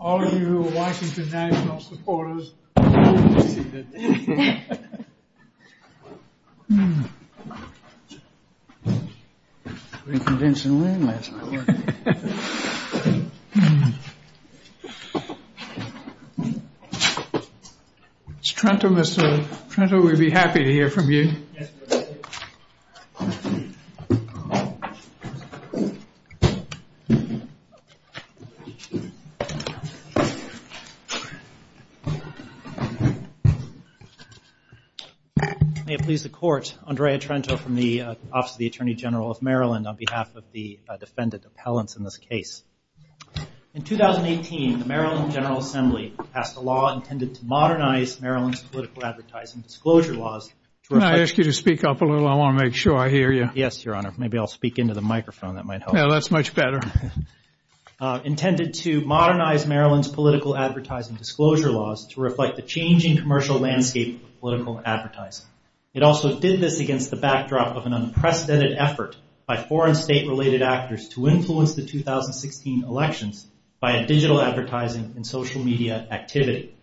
All of you Washington National supporters, you're going to need this. We can win this. Trento, we'd be happy to hear from you. May it please the court, Andrea Trento from the Office of the Attorney General of Maryland on behalf of the defendant appellant in this case. In 2018, the Maryland General Assembly passed a law intended to modernize Maryland's political advertising disclosure laws. Can I ask you to speak up a little? I want to make sure I hear you. Yes, Your Honor. Maybe I'll speak into the microphone. That's much better. Intended to modernize Maryland's political advertising disclosure laws to reflect the changing commercial landscape of political advertising. It also did this against the backdrop of an unprecedented effort by foreign state related actors to influence the 2016 elections by a digital advertising and social media activity.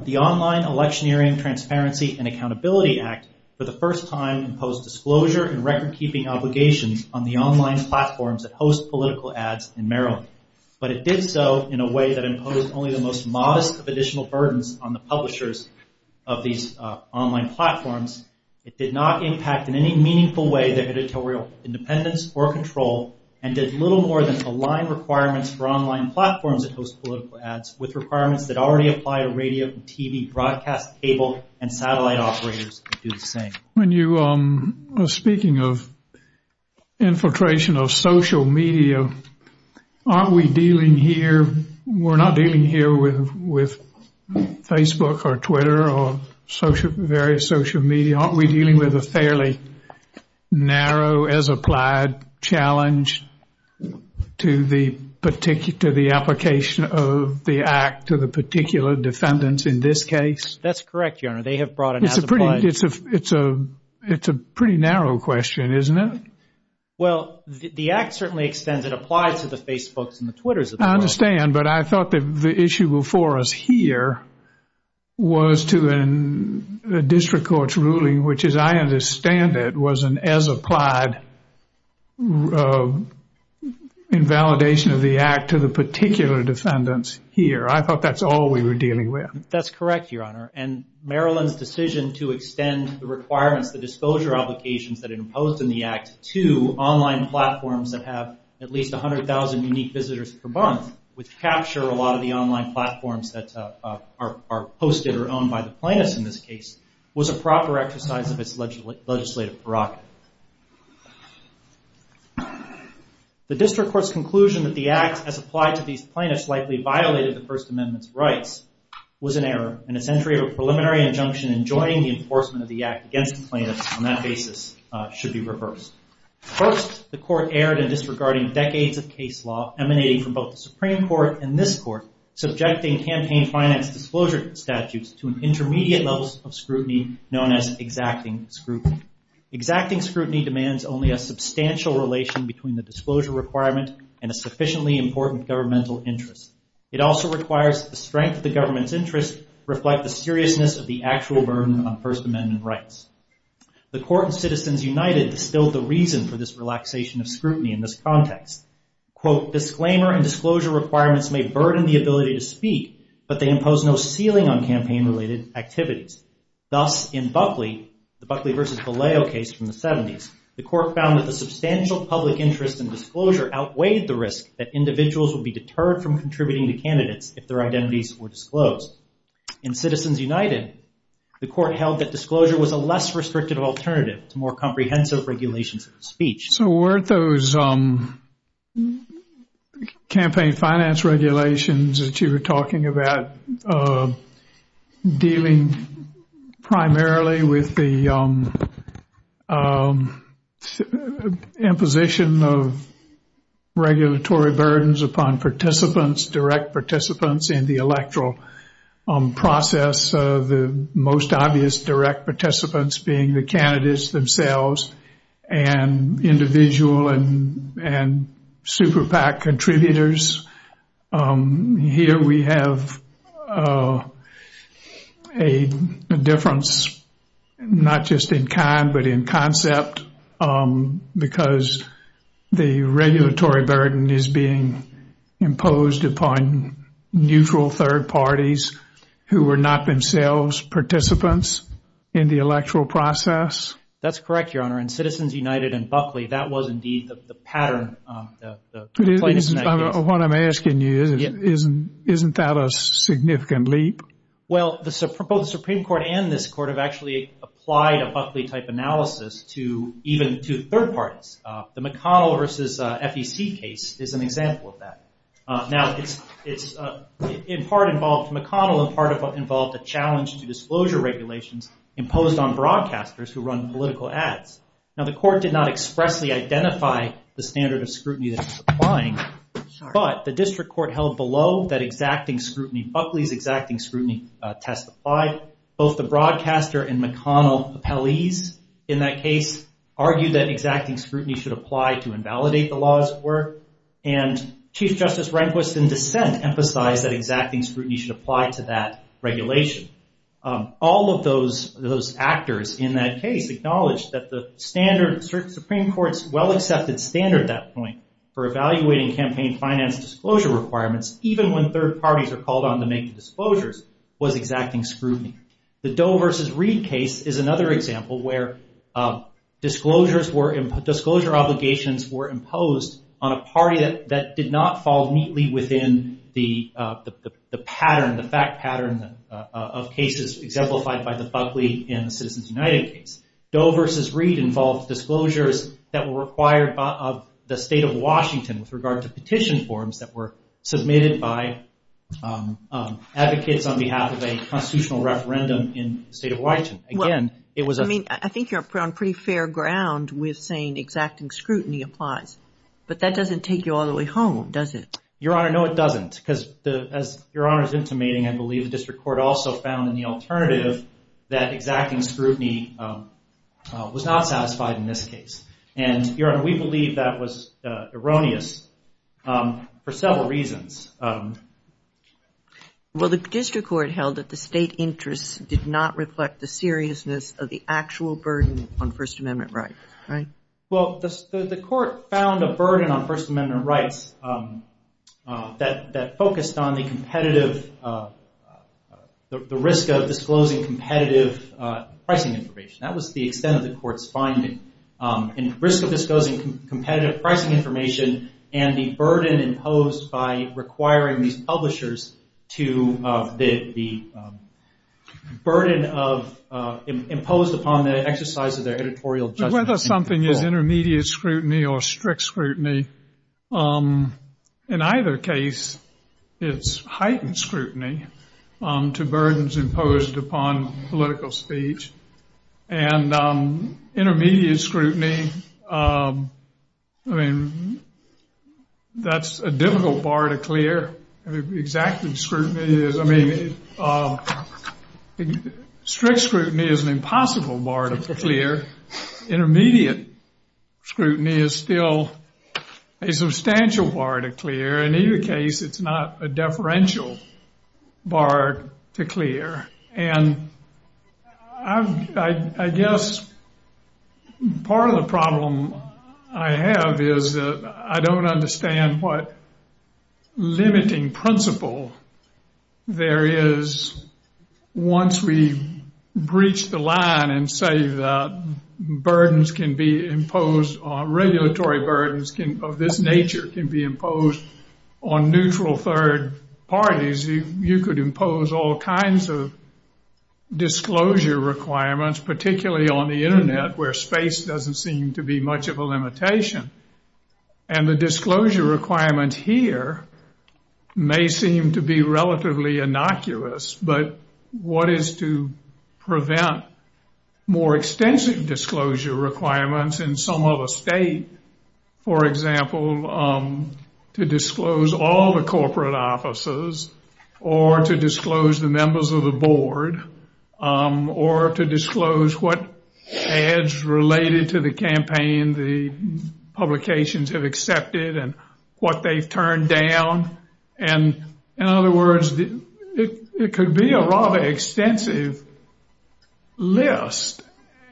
The Online Electioneering Transparency and Accountability Act for the first time imposed disclosure and record keeping obligations on the online platforms that host political ads in Maryland. But it did so in a way that imposed only the most modest of additional burdens on the publishers of these online platforms. It did not impact in any meaningful way the editorial independence or control and did little more than align requirements for online platforms that host political ads with requirements that already apply to radio, TV, broadcast, cable, and satellite operators to do the same. Speaking of infiltration of social media, aren't we dealing here with Facebook or Twitter or various social media? Aren't we dealing with a fairly narrow as applied challenge to the application of the act to the particular defendants in this case? That's correct, Your Honor. They have brought it as a point. It's a pretty narrow question, isn't it? Well, the act certainly extends and applies to the Facebooks and the Twitters. I understand, but I thought that the issue before us here was to the district court's ruling, which as I understand it, was an as applied invalidation of the act to the particular defendants here. I thought that's all we were dealing with. That's correct, Your Honor. And Maryland's decision to extend the requirements, the disclosure obligations that are imposed in the act to online platforms that have at least 100,000 unique visitors per month, which capture a lot of the online platforms that are hosted or owned by the plaintiffs in this case, was a proper exercise of its legislative prerogative. The district court's conclusion that the act as applied to these plaintiffs likely violated the First Amendment's rights was an error, and a century of a preliminary injunction enjoining the enforcement of the act against the plaintiffs on that basis should be reversed. First, the court erred in disregarding decades of case law emanating from both the Supreme Court and this Court, subjecting campaign finance disclosure statutes to an intermediate level of scrutiny known as exacting scrutiny. Exacting scrutiny demands only a substantial relation between the disclosure requirement and a sufficiently important governmental interest. It also requires that the strength of the government's interest reflect the seriousness of the actual burden on First Amendment rights. The Court of Citizens United instilled the reason for this relaxation of scrutiny in this context. Quote, disclaimer and disclosure requirements may burden the ability to speak, but they impose no ceiling on campaign-related activities. Thus, in Buckley, the Buckley v. Galeo case from the 70s, the court found that the substantial public interest in disclosure outweighed the risk that individuals would be deterred from contributing to candidates if their identities were disclosed. In Citizens United, the court held that disclosure was a less restrictive alternative to more comprehensive regulations of speech. So weren't those campaign finance regulations that you were talking about dealing primarily with the imposition of regulatory burdens upon participants, direct participants in the electoral process, the most obvious direct participants being the candidates themselves and individual and super PAC contributors? Here we have a difference, not just in kind but in concept, because the regulatory burden is being imposed upon neutral third parties who are not themselves participants in the electoral process. That's correct, Your Honor. In Citizens United and Buckley, that was indeed the pattern. What I'm asking you is, isn't that a significant leap? Well, both the Supreme Court and this court have actually applied a Buckley-type analysis to even to third parties. The McConnell v. FEC case is an example of that. Now, McConnell in part involved a challenge to disclosure regulations imposed on broadcasters who run political ads. Now, the court did not expressly identify the standard of scrutiny that it was applying, but the district court held below that exacting scrutiny Buckley's exacting scrutiny test applied. Both the broadcaster and McConnell appellees in that case argued that exacting scrutiny should apply to invalidate the law as it were, and Chief Justice Rehnquist in dissent emphasized that exacting scrutiny should apply to that regulation. All of those actors in that case acknowledged that the Supreme Court's well-accepted standard at that point for evaluating campaign finance disclosure requirements, even when third parties were called on to make disclosures, was exacting scrutiny. The Doe v. Reed case is another example where disclosure obligations were imposed on a party that did not fall neatly within the fact pattern of cases exemplified by the Buckley and Citizens United case. Doe v. Reed involved disclosures that were required of the state of Washington with regard to petition forms that were submitted by advocates on behalf of a constitutional referendum in the state of Washington. I think you're on pretty fair ground with saying exacting scrutiny applies, but that doesn't take you all the way home, does it? Your Honor, no, it doesn't, because as Your Honor is intimating, I believe the district court also found in the alternative that exacting scrutiny was not satisfied in this case. And, Your Honor, we believe that was erroneous for several reasons. Well, the district court held that the state interest did not reflect the seriousness of the actual burden on First Amendment rights, right? Well, the court found a burden on First Amendment rights that focused on the competitive – the risk of disclosing competitive pricing information. That was the extent of the court's finding, the risk of disclosing competitive pricing information and the burden imposed by requiring these publishers to – the burden imposed upon the exercise of their editorial judgment. Well, whether something is intermediate scrutiny or strict scrutiny, in either case, it's heightened scrutiny to burdens imposed upon political speech. And intermediate scrutiny, that's a difficult bar to clear. Exacting scrutiny is – I mean, strict scrutiny is an impossible bar to clear. Intermediate scrutiny is still a substantial bar to clear. In either case, it's not a deferential bar to clear. And I guess part of the problem I have is that I don't understand what limiting principle there is once we breach the line and say that burdens can be imposed – disclosure requirements, particularly on the Internet, where space doesn't seem to be much of a limitation. And the disclosure requirement here may seem to be relatively innocuous. But what is to prevent more extensive disclosure requirements in some other state? For example, to disclose all the corporate offices or to disclose the members of the board or to disclose what ads related to the campaign the publications have accepted and what they've turned down. And in other words, it could be a rather extensive list.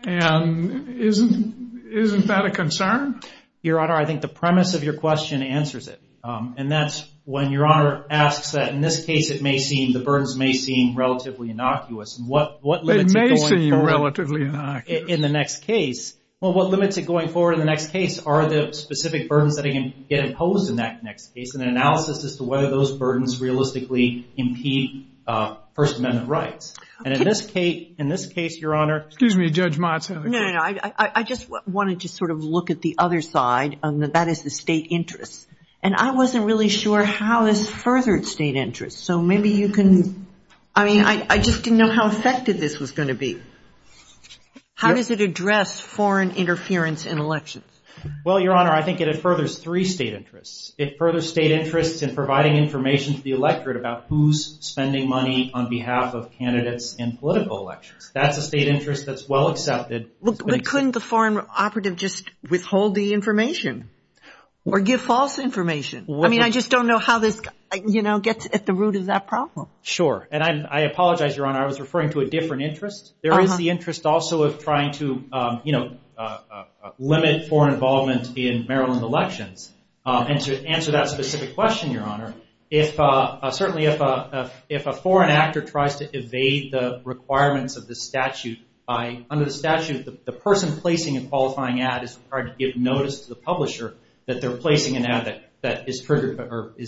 And isn't that a concern? Your Honor, I think the premise of your question answers it. And that's when Your Honor asks that in this case it may seem – the burdens may seem relatively innocuous. They may seem relatively innocuous. Well, what limits it going forward in the next case are the specific burdens that get imposed in that next case, and an analysis as to whether those burdens realistically impede First Amendment rights. And in this case, Your Honor – Excuse me, Judge Montauk. No, no, no. I just wanted to sort of look at the other side, and that is the state interest. And I wasn't really sure how this furthered state interest. So maybe you can – I mean, I just didn't know how effective this was going to be. How does it address foreign interference in elections? Well, Your Honor, I think it furthers three state interests. It furthers state interest in providing information to the electorate about who's spending money on behalf of candidates in political elections. That's a state interest that's well accepted. But couldn't the foreign operative just withhold the information or give false information? I mean, I just don't know how this gets at the root of that problem. Sure. And I apologize, Your Honor. I was referring to a different interest. There is the interest also of trying to limit foreign involvement in Maryland elections. And to answer that specific question, Your Honor, certainly if a foreign actor tries to evade the requirements of the statute, under the statute, the person placing a qualifying ad is required to give notice to the publisher that they're placing an ad that is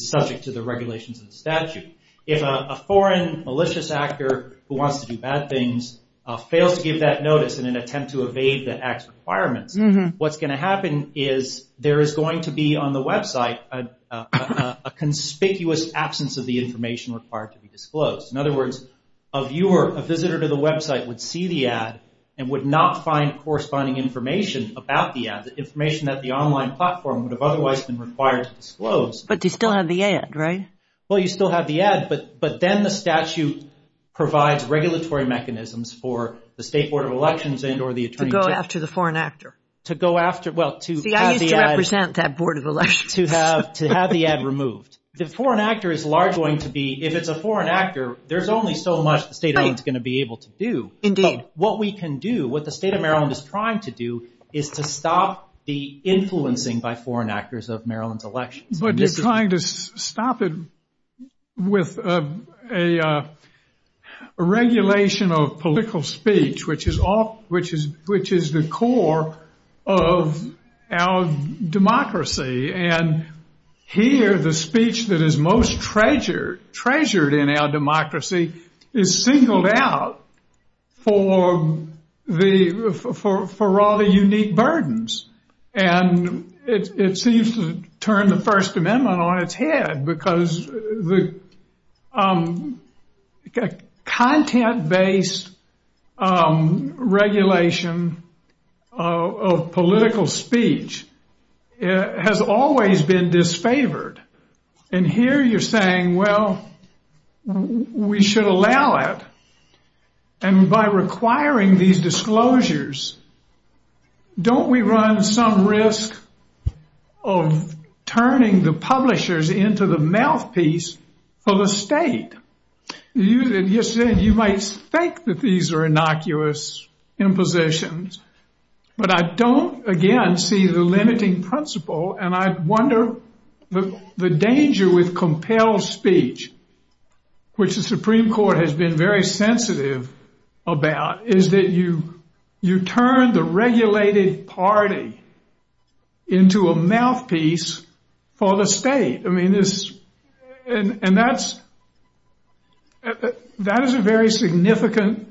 subject to the regulations of the statute. If a foreign malicious actor who wants to do bad things fails to give that notice in an attempt to evade the ad's requirements, what's going to happen is there is going to be on the website a conspicuous absence of the information required to be disclosed. In other words, a viewer, a visitor to the website would see the ad and would not find corresponding information about the ad, the information that the online platform would have otherwise been required to disclose. But they still have the ad, right? Well, you still have the ad, but then the statute provides regulatory mechanisms for the State Board of Elections and or the Attorney General. To go after the foreign actor. To go after, well, to have the ad. The idea is to represent that Board of Elections. To have the ad removed. The foreign actor is largely going to be, if it's a foreign actor, there's only so much the State of Maryland is going to be able to do. Indeed. What we can do, what the State of Maryland is trying to do is to stop the influencing by foreign actors of Maryland's elections. But you're trying to stop it with a regulation of political speech, which is the core of our democracy. And here the speech that is most treasured in our democracy is singled out for rather unique burdens. And it seems to turn the First Amendment on its head because the content-based regulation of political speech has always been disfavored. And here you're saying, well, we should allow it. And by requiring these disclosures, don't we run some risk of turning the publishers into the mouthpiece of the state? You said you might think that these are innocuous impositions, but I don't, again, see the limiting principle. And I wonder, the danger with compelled speech, which the Supreme Court has been very sensitive about, is that you turn the regulated party into a mouthpiece for the state. And that is a very significant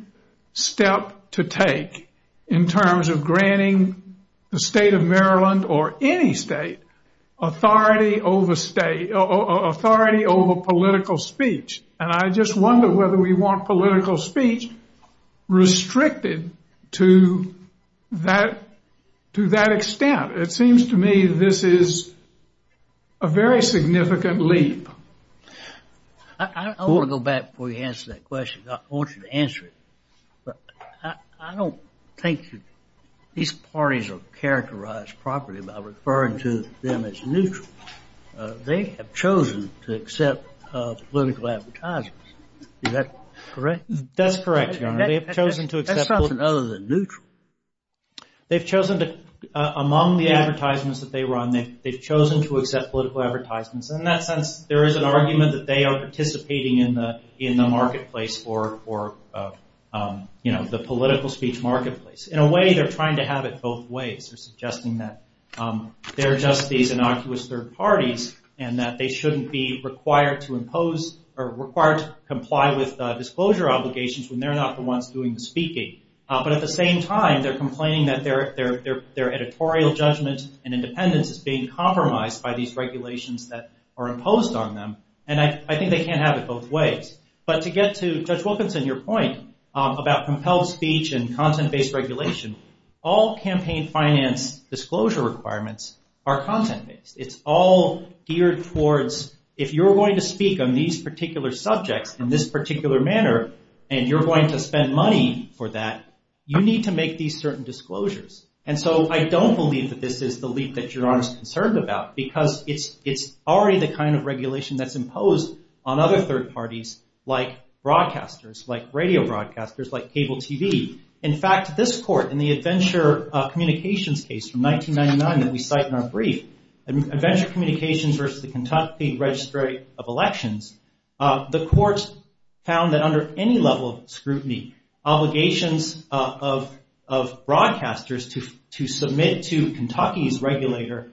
step to take in terms of granting the State of Maryland or any state authority over political speech. And I just wonder whether we want political speech restricted to that extent. It seems to me this is a very significant leap. I want to go back before you answer that question. I want you to answer it. I don't think that these parties are characterized properly by referring to them as neutral. They have chosen to accept political advertisements. Is that correct? That's correct. They've chosen to accept those other than neutral. Among the advertisements that they run, they've chosen to accept political advertisements. And in that sense, there is an argument that they are participating in the marketplace for the political speech marketplace. In a way, they're trying to have it both ways. They're suggesting that they're just these innocuous third parties and that they shouldn't be required to comply with disclosure obligations when they're not the ones doing the speaking. But at the same time, they're complaining that their editorial judgments and independence is being compromised by these regulations that are imposed on them. And I think they can't have it both ways. But to get to Judge Wilkinson, your point about compelled speech and content-based regulation, all campaign finance disclosure requirements are content-based. It's all geared towards if you're going to speak on these particular subjects in this particular manner and you're going to spend money for that, you need to make these certain disclosures. And so I don't believe that this is the leak that your Honor is concerned about because it's already the kind of regulation that's imposed on other third parties like broadcasters, like radio broadcasters, like cable TV. In fact, this court, in the Adventure Communications case from 1999 that we cite in our brief, Adventure Communications versus the Kentucky Registry of Elections, the courts found that under any level of scrutiny, obligations of broadcasters to submit to Kentucky's regulator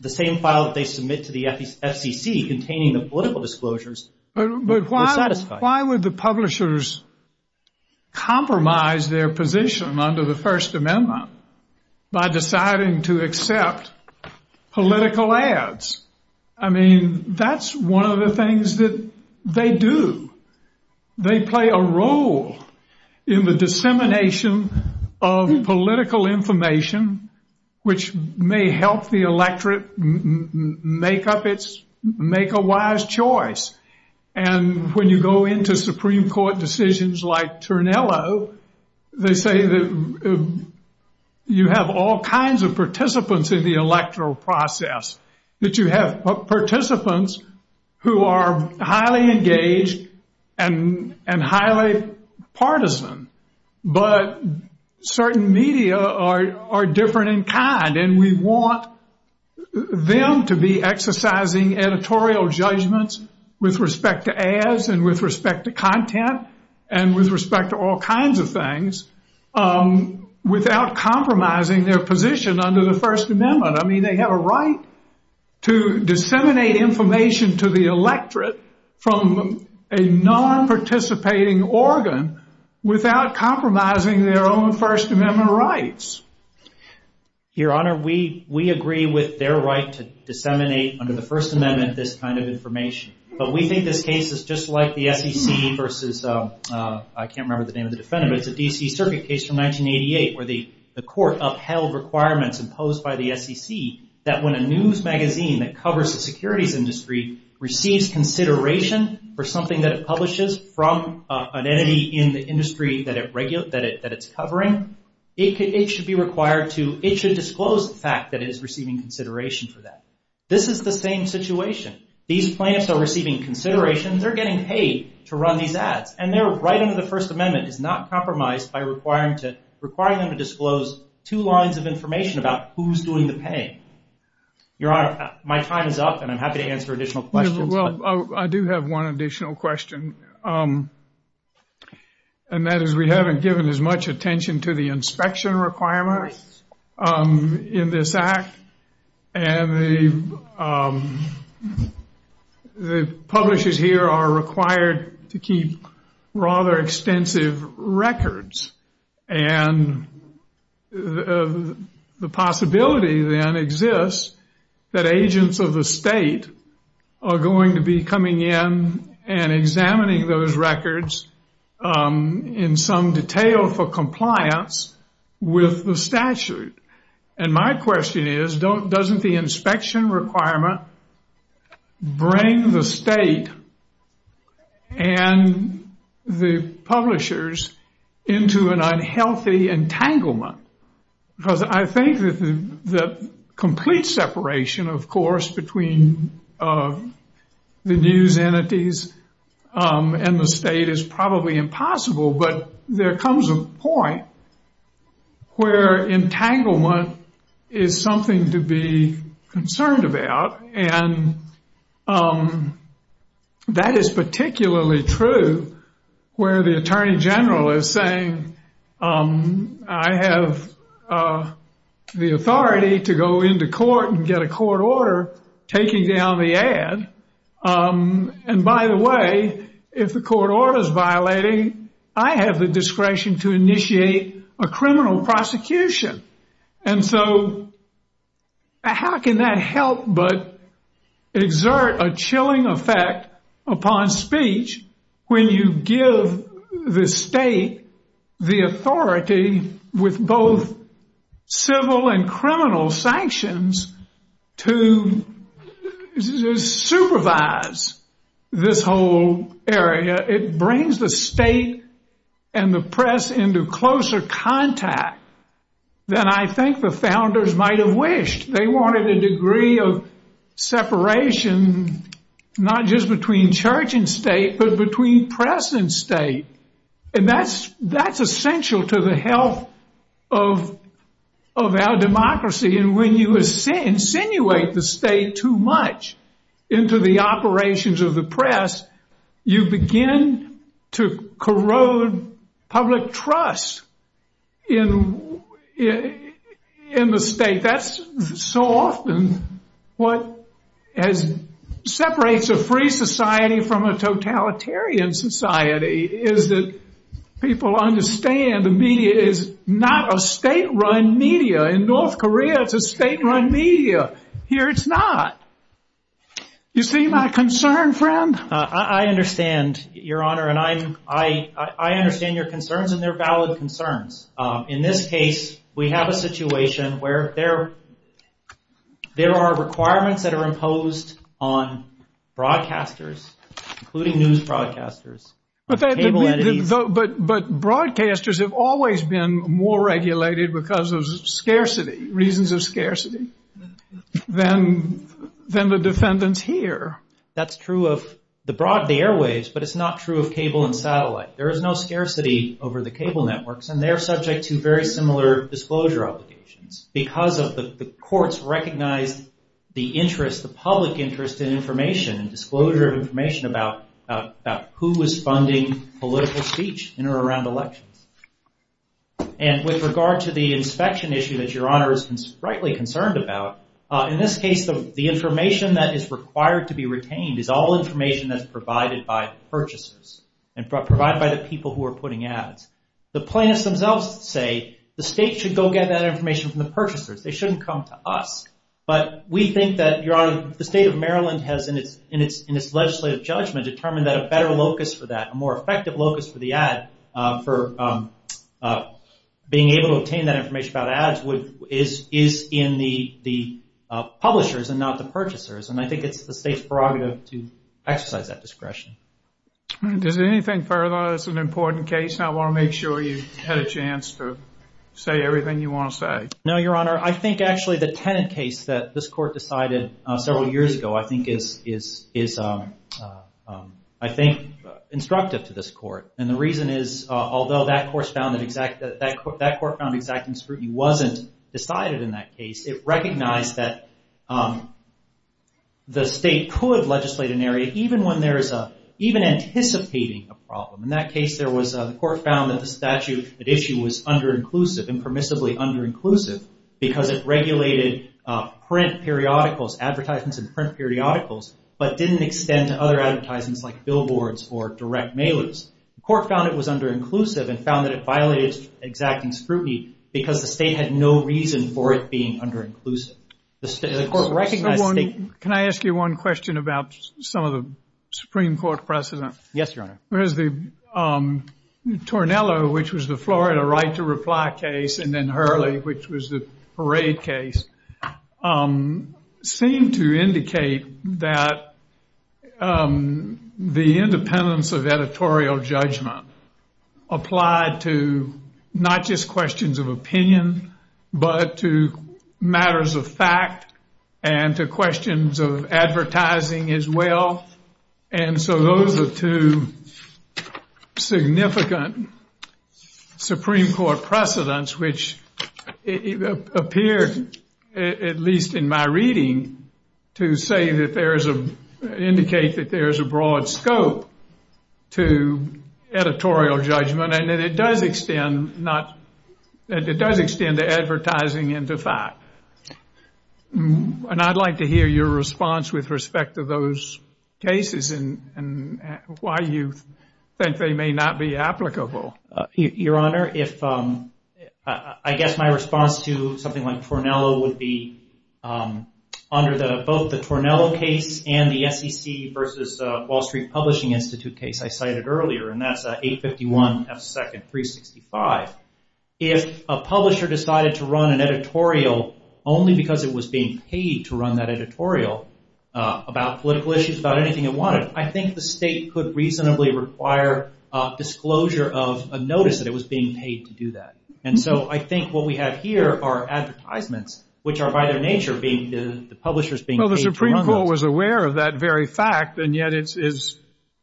the same file that they submit to the FTC containing the political disclosures were satisfied. Why would the publishers compromise their position under the First Amendment by deciding to accept political ads? I mean, that's one of the things that they do. They play a role in the dissemination of political information which may help the electorate make a wise choice. And when you go into Supreme Court decisions like Turnello, they say that you have all kinds of participants in the electoral process, that you have participants who are highly engaged and highly partisan, but certain media are different in kind. And we want them to be exercising editorial judgments with respect to ads and with respect to content and with respect to all kinds of things without compromising their position under the First Amendment. I mean, they have a right to disseminate information to the electorate from a non-participating organ without compromising their own First Amendment rights. Your Honor, we agree with their right to disseminate under the First Amendment this kind of information. But we think this case is just like the FTC versus – I can't remember the name of the defendant, but it's the D.C. Circuit case from 1988 where the court upheld requirements imposed by the FTC that when a news magazine that covers the securities industry receives consideration for something that it publishes from an entity in the industry that it's covering, it should disclose the fact that it is receiving consideration for that. This is the same situation. These plaintiffs are receiving consideration. They're getting paid to run these ads. And their right under the First Amendment is not compromised by requiring them to disclose two lines of information about who's doing the paying. Your Honor, my time is up, and I'm happy to answer additional questions. Well, I do have one additional question, and that is we haven't given as much attention to the inspection requirements in this act. And the publishers here are required to keep rather extensive records. And the possibility then exists that agents of the state are going to be coming in and examining those records in some detail for compliance with the statute. And my question is, doesn't the inspection requirement bring the state and the publishers into an unhealthy entanglement? I think that the complete separation, of course, between the news entities and the state is probably impossible. But there comes a point where entanglement is something to be concerned about. And that is particularly true where the Attorney General is saying, I have the authority to go into court and get a court order taking down the ad. And by the way, if the court order is violating, I have the discretion to initiate a criminal prosecution. And so how can that help but exert a chilling effect upon speech when you give the state the authority with both civil and criminal sanctions to supervise this whole area? It brings the state and the press into closer contact than I think the founders might have wished. They wanted a degree of separation not just between church and state, but between press and state. And that's essential to the health of our democracy. And when you insinuate the state too much into the operations of the press, you begin to corrode public trust in the state. That's so often what separates a free society from a totalitarian society is that people understand the media is not a state-run media. In North Korea, it's a state-run media. Here, it's not. You see my concern, friend? I understand, Your Honor, and I understand your concerns, and they're valid concerns. In this case, we have a situation where there are requirements that are imposed on broadcasters, including news broadcasters. But broadcasters have always been more regulated because of scarcity, reasons of scarcity, than the defendants here. That's true of the airwaves, but it's not true of cable and satellite. There is no scarcity over the cable networks, and they're subject to very similar disclosure obligations because the courts recognize the public interest in information, disclosure of information about who is funding political speech in or around elections. And with regard to the inspection issue that Your Honor is rightly concerned about, in this case, the information that is required to be retained is all information that's provided by purchasers. And provided by the people who are putting ads. The plaintiffs themselves say the state should go get that information from the purchasers. They shouldn't come to us. But we think that, Your Honor, the state of Maryland has, in its legislative judgment, determined that a better locus for that, a more effective locus for the ad, for being able to obtain that information about ads, is in the publishers and not the purchasers. And I think it's the state's prerogative to exercise that discretion. Is there anything further? It's an important case, and I want to make sure you had a chance to say everything you want to say. No, Your Honor. I think, actually, the tenant case that this court decided several years ago, I think, is, I think, instructive to this court. And the reason is, although that court found exacting scrutiny wasn't decided in that case, it recognized that the state could legislate an area, even when there's a, even anticipating a problem. In that case, there was, the court found that the statute at issue was under-inclusive, impermissibly under-inclusive, because it regulated print periodicals, advertisements in print periodicals, but didn't extend to other advertisements like billboards or direct mailers. The court found it was under-inclusive and found that it violated exacting scrutiny because the state had no reason for it being under-inclusive. Can I ask you one question about some of the Supreme Court precedents? Yes, Your Honor. Tornello, which was the Florida right to reply case, and then Hurley, which was the parade case, seemed to indicate that the independence of editorial judgment applied to not just questions of opinion, but to matters of fact and to questions of advertising as well. And so those are two significant Supreme Court precedents, which appear, at least in my reading, to say that there is a, indicate that there is a broad scope to editorial judgment, and that it does extend not, that it does extend to advertising and to fact. And I'd like to hear your response with respect to those cases and why you think they may not be applicable. Your Honor, if, I guess my response to something like Tornello would be under both the Tornello case and the SEC versus Wall Street Publishing Institute case I cited earlier, and that's 851 F. 2nd 365. If a publisher decided to run an editorial only because it was being paid to run that editorial about political issues, about anything they wanted, I think the state could reasonably require disclosure of a notice that it was being paid to do that. And so I think what we have here are advertisements, which are by the nature of being, the publisher's being paid to run them. Well, the Supreme Court was aware of that very fact, and yet it's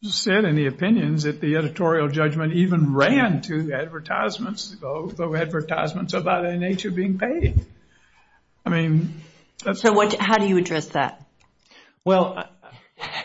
said in the opinions that the editorial judgment even ran to advertisements of that nature being paid. So how do you address that? Well,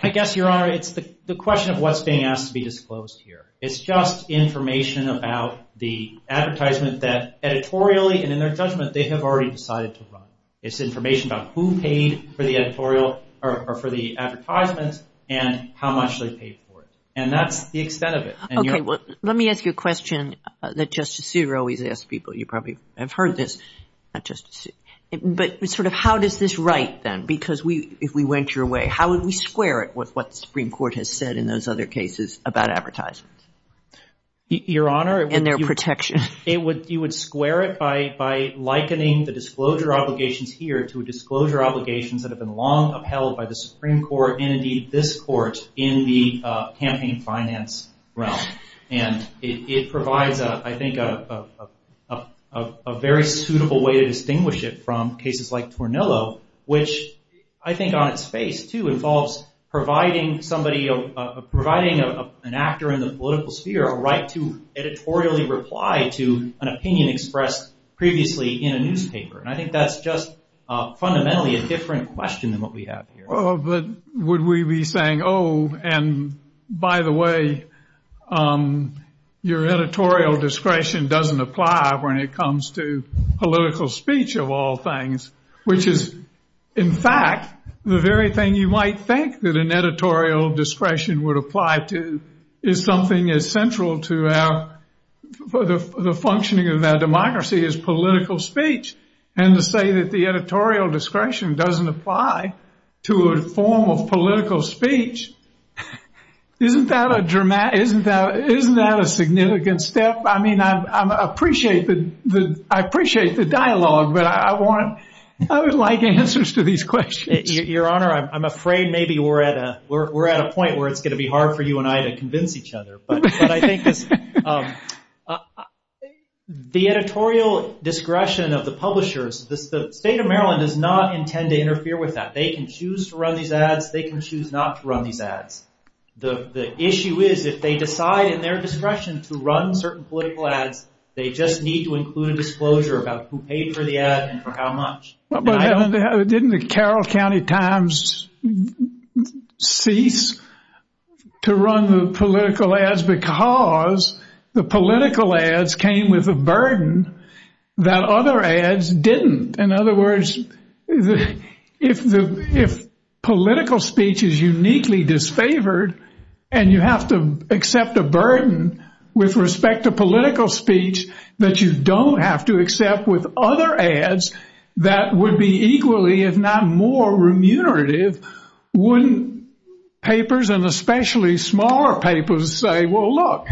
I guess, Your Honor, it's the question of what's being asked to be disclosed here. It's just information about the advertisement that editorially and in their judgment they have already decided to run. It's information about who paid for the editorial or for the advertisements and how much they paid for it. And that's the extent of it. Okay, well, let me ask you a question that Justice Souter always asks people. You probably have heard this. But sort of how does this write, then? Because if we went your way, how would we square it with what the Supreme Court has said in those other cases about advertisements? Your Honor? And their protection. You would square it by likening the disclosure obligations here to disclosure obligations that have been long upheld by the Supreme Court and, indeed, this Court in the campaign finance realm. And it provides, I think, a very suitable way to distinguish it from cases like Tornillo, which I think on its face, too, involves providing an actor in the political sphere a right to editorially reply to an opinion expressed previously in a newspaper. And I think that's just fundamentally a different question than what we have here. Would we be saying, oh, and by the way, your editorial discretion doesn't apply when it comes to political speech, of all things? Which is, in fact, the very thing you might think that an editorial discretion would apply to is something as central to the functioning of our democracy as political speech. And to say that the editorial discretion doesn't apply to a formal political speech, isn't that a significant step? I mean, I appreciate the dialogue, but I would like answers to these questions. Your Honor, I'm afraid maybe we're at a point where it's going to be hard for you and I to convince each other. But I think the editorial discretion of the publishers, the state of Maryland does not intend to interfere with that. They can choose to run these ads. They can choose not to run these ads. The issue is, if they decide in their discretion to run certain political ads, they just need to include a disclosure about who paid for the ad and for how much. Didn't the Carroll County Times cease to run the political ads because the political ads came with a burden that other ads didn't? In other words, if political speech is uniquely disfavored and you have to accept a burden with respect to political speech that you don't have to accept with other ads that would be equally, if not more, remunerative, wouldn't papers and especially smaller papers say, well, look,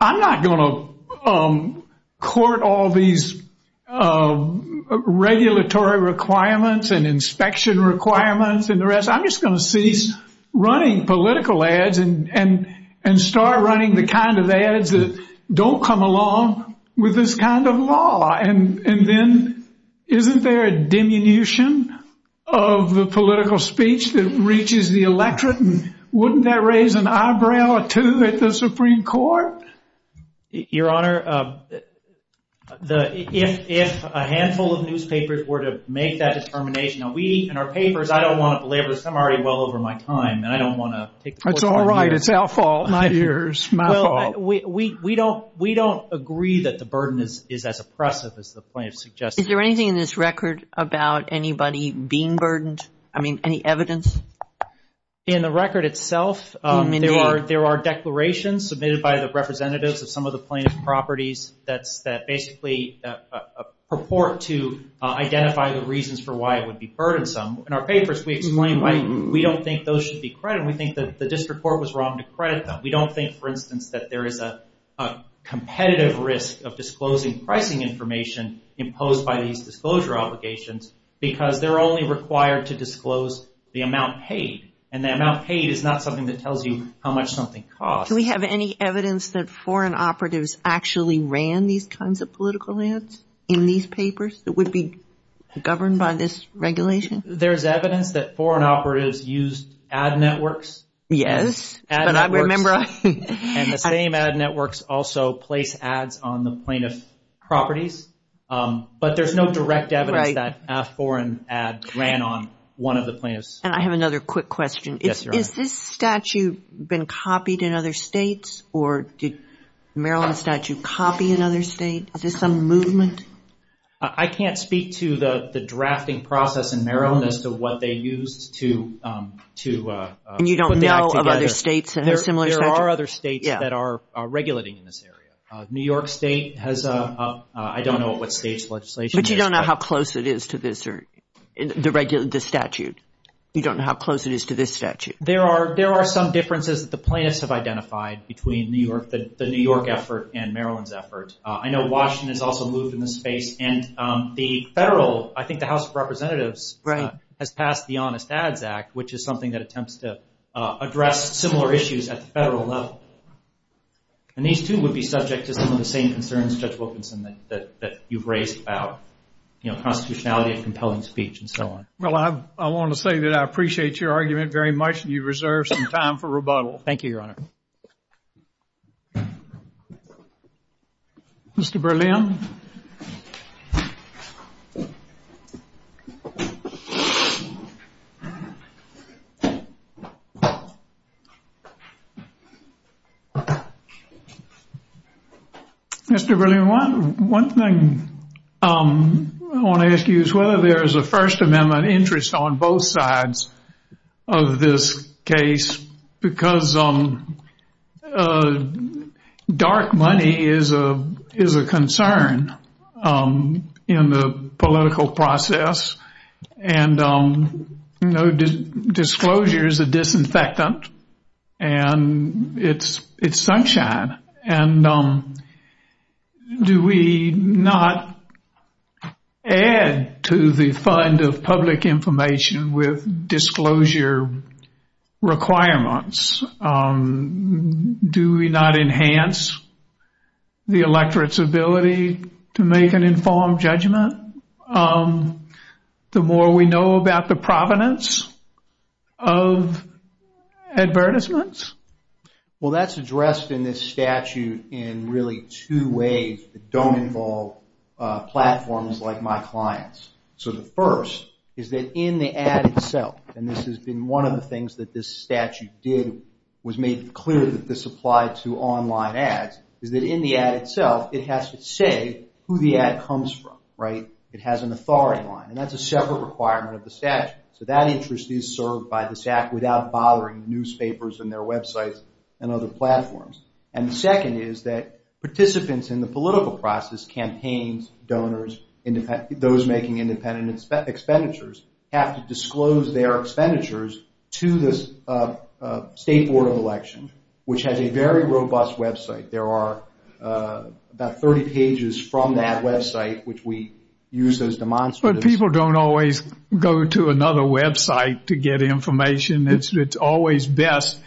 I'm not going to court all these regulatory requirements and inspection requirements and the rest. I'm just going to cease running political ads and start running the kind of ads that don't come along with this kind of law. And then, isn't there a diminution of the political speech that reaches the electorate? And wouldn't that raise an eyebrow or two at the Supreme Court? Your Honor, if a handful of newspapers were to make that determination, and we in our papers, I don't want to belabor this. I'm already well over my time. And I don't want to take the floor. That's all right. It's our fault. It's my fault. Well, we don't agree that the burden is as oppressive as the plaintiff suggested. Is there anything in this record about anybody being burdened? I mean, any evidence? In the record itself, there are declarations submitted by the representatives of some of the plaintiff's properties that basically purport to identify the reasons for why it would be burdensome. In our papers, we explain why we don't think those should be credited. We think that this report was wrong to credit them. We don't think, for instance, that there is a competitive risk of disclosing pricing information imposed by these disclosure obligations because they're only required to disclose the amount paid. And the amount paid is not something that tells you how much something costs. Do we have any evidence that foreign operatives actually ran these kinds of political ads in these papers that would be governed by this regulation? There's evidence that foreign operatives used ad networks. Yes. And the same ad networks also placed ads on the plaintiff's properties. But there's no direct evidence that foreign ads ran on one of the plaintiff's properties. And I have another quick question. Yes, Your Honor. Has this statute been copied in other states or did the Maryland statute copy in other states? Is there some movement? I can't speak to the drafting process in Maryland as to what they used to put the act together. And you don't know of other states that have similar statutes? There are other states that are regulating in this area. New York State has a—I don't know what state's legislation is. But you don't know how close it is to this statute? You don't know how close it is to this statute? There are some differences that the plaintiffs have identified between the New York effort and Maryland's efforts. I know Washington has also moved in this space. And the federal—I think the House of Representatives has passed the Honest Ads Act, which is something that attempts to address similar issues at the federal level. And these two would be subject to some of the same concerns, Judge Wilkinson, that you've raised about constitutionality and compelling speech and so on. Well, I want to say that I appreciate your argument very much and you've reserved some time for rebuttal. Thank you, Your Honor. Mr. Berlin. Mr. Berlin, one thing I want to ask you is whether there is a First Amendment interest on both sides of this case, because dark money is a concern in the political process and, you know, disclosure is a disinfectant and it's sunshine. And do we not add to the fund of public information with disclosure requirements? Do we not enhance the electorate's ability to make an informed judgment the more we know about the provenance of advertisements? Well, that's addressed in this statute in really two ways that don't involve platforms like my clients. So the first is that in the ad itself—and this has been one of the things that this statute did, was make clear that this applied to online ads— is that in the ad itself, it has to say who the ad comes from, right? It has an authority line. And that's a separate requirement of the statute. So that interest is served by the statute without bothering newspapers and their websites and other platforms. And the second is that participants in the political process—campaigns, donors, those making independent expenditures— have to disclose their expenditures to the State Board of Elections, which has a very robust website. There are about 30 pages from that website which we use as demonstrators. But people don't always go to another website to get information. It's always best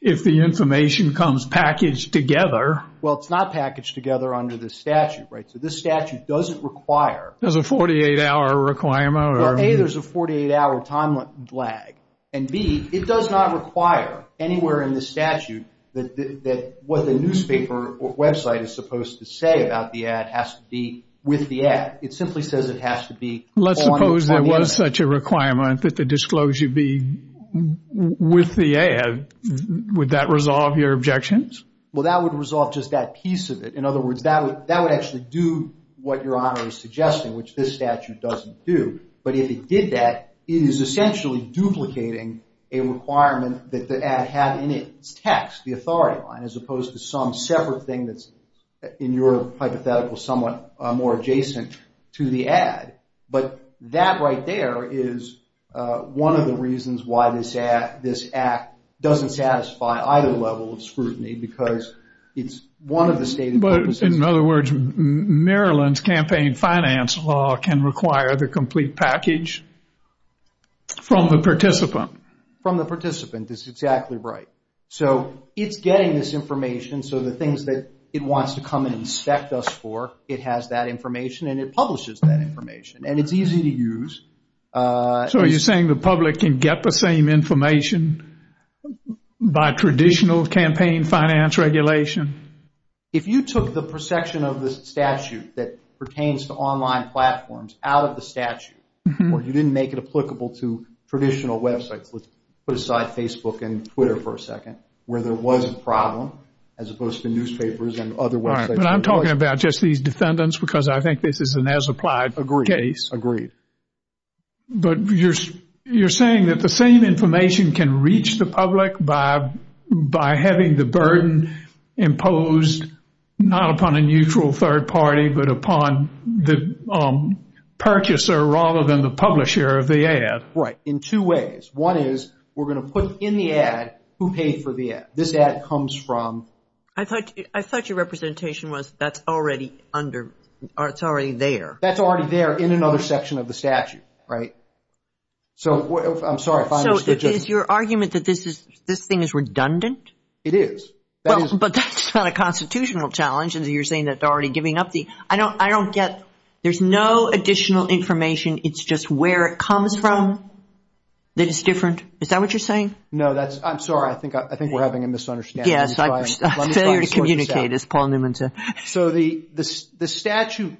if the information comes packaged together. Well, it's not packaged together under this statute, right? So this statute doesn't require— There's a 48-hour requirement? Well, A, there's a 48-hour time lag. And B, it does not require anywhere in the statute that what the newspaper or website is supposed to say about the ad has to be with the ad. It simply says it has to be on the website. Let's suppose there was such a requirement that the disclosure be with the ad. Would that resolve your objections? Well, that would resolve just that piece of it. In other words, that would actually do what Your Honor is suggesting, which this statute doesn't do. But if it did that, it is essentially duplicating a requirement that the ad have in its text, the authority line, as opposed to some separate thing that's in your hypothetical somewhat more adjacent to the ad. But that right there is one of the reasons why this act doesn't satisfy either level of scrutiny because it's one of the statements— But in other words, Maryland's campaign finance law can require the complete package from the participant. From the participant. That's exactly right. So it's getting this information. So the things that it wants to come and inspect us for, it has that information and it publishes that information. And it's easy to use. So are you saying the public can get the same information by traditional campaign finance regulation? If you took the perception of the statute that pertains to online platforms out of the statute, or you didn't make it applicable to traditional websites, put aside Facebook and Twitter for a second, where there was a problem as opposed to newspapers and other websites. I'm talking about just these defendants because I think this is an as-applied case. Agreed. But you're saying that the same information can reach the public by having the burden imposed not upon a neutral third party, but upon the purchaser rather than the publisher of the ad. Right. In two ways. One is we're going to put in the ad who paid for the ad. This ad comes from— I thought your representation was that's already under—it's already there. That's already there in another section of the statute, right? So I'm sorry if I misunderstood. So is your argument that this thing is redundant? It is. But that's not a constitutional challenge. You're saying that they're already giving up the—I don't get—there's no additional information. It's just where it comes from that is different. Is that what you're saying? No, that's—I'm sorry. I think we're having a misunderstanding. Yes, a failure to communicate, as Paul Newman said. So the statute,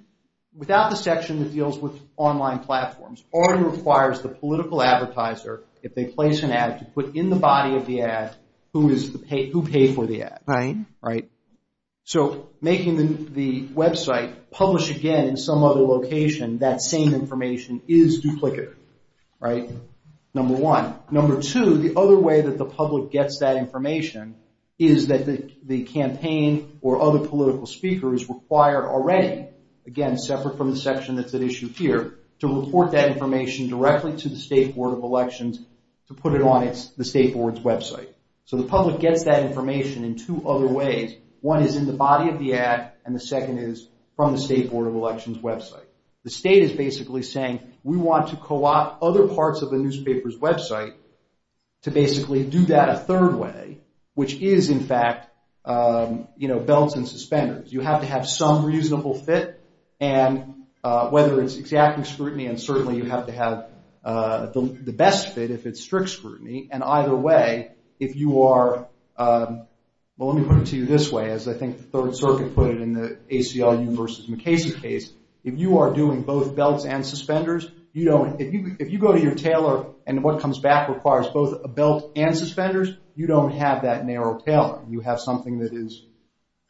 without the section that deals with online platforms, already requires the political advertiser, if they place an ad, to put in the body of the ad who paid for the ad. Right. Right. So making the website publish again in some other location, that same information is duplicative. Right? Number one. Number two, the other way that the public gets that information is that the campaign or other political speaker is required already, again, separate from the section that's at issue here, to report that information directly to the State Board of Elections to put it on the State Board's website. So the public gets that information in two other ways. One is in the body of the ad, and the second is from the State Board of Elections website. The state is basically saying, we want to co-opt other parts of the newspaper's website to basically do that a third way, which is, in fact, belts and suspenders. You have to have some reasonable fit, and whether it's exacting scrutiny, and certainly you have to have the best fit if it's strict scrutiny, and either way, if you are, well, let me put it to you this way, as I think the Third Circuit put it in the ACLU versus McKenzie case, if you are doing both belts and suspenders, if you go to your tailor, and what comes back requires both a belt and suspenders, you don't have that narrow tailor. You have something that is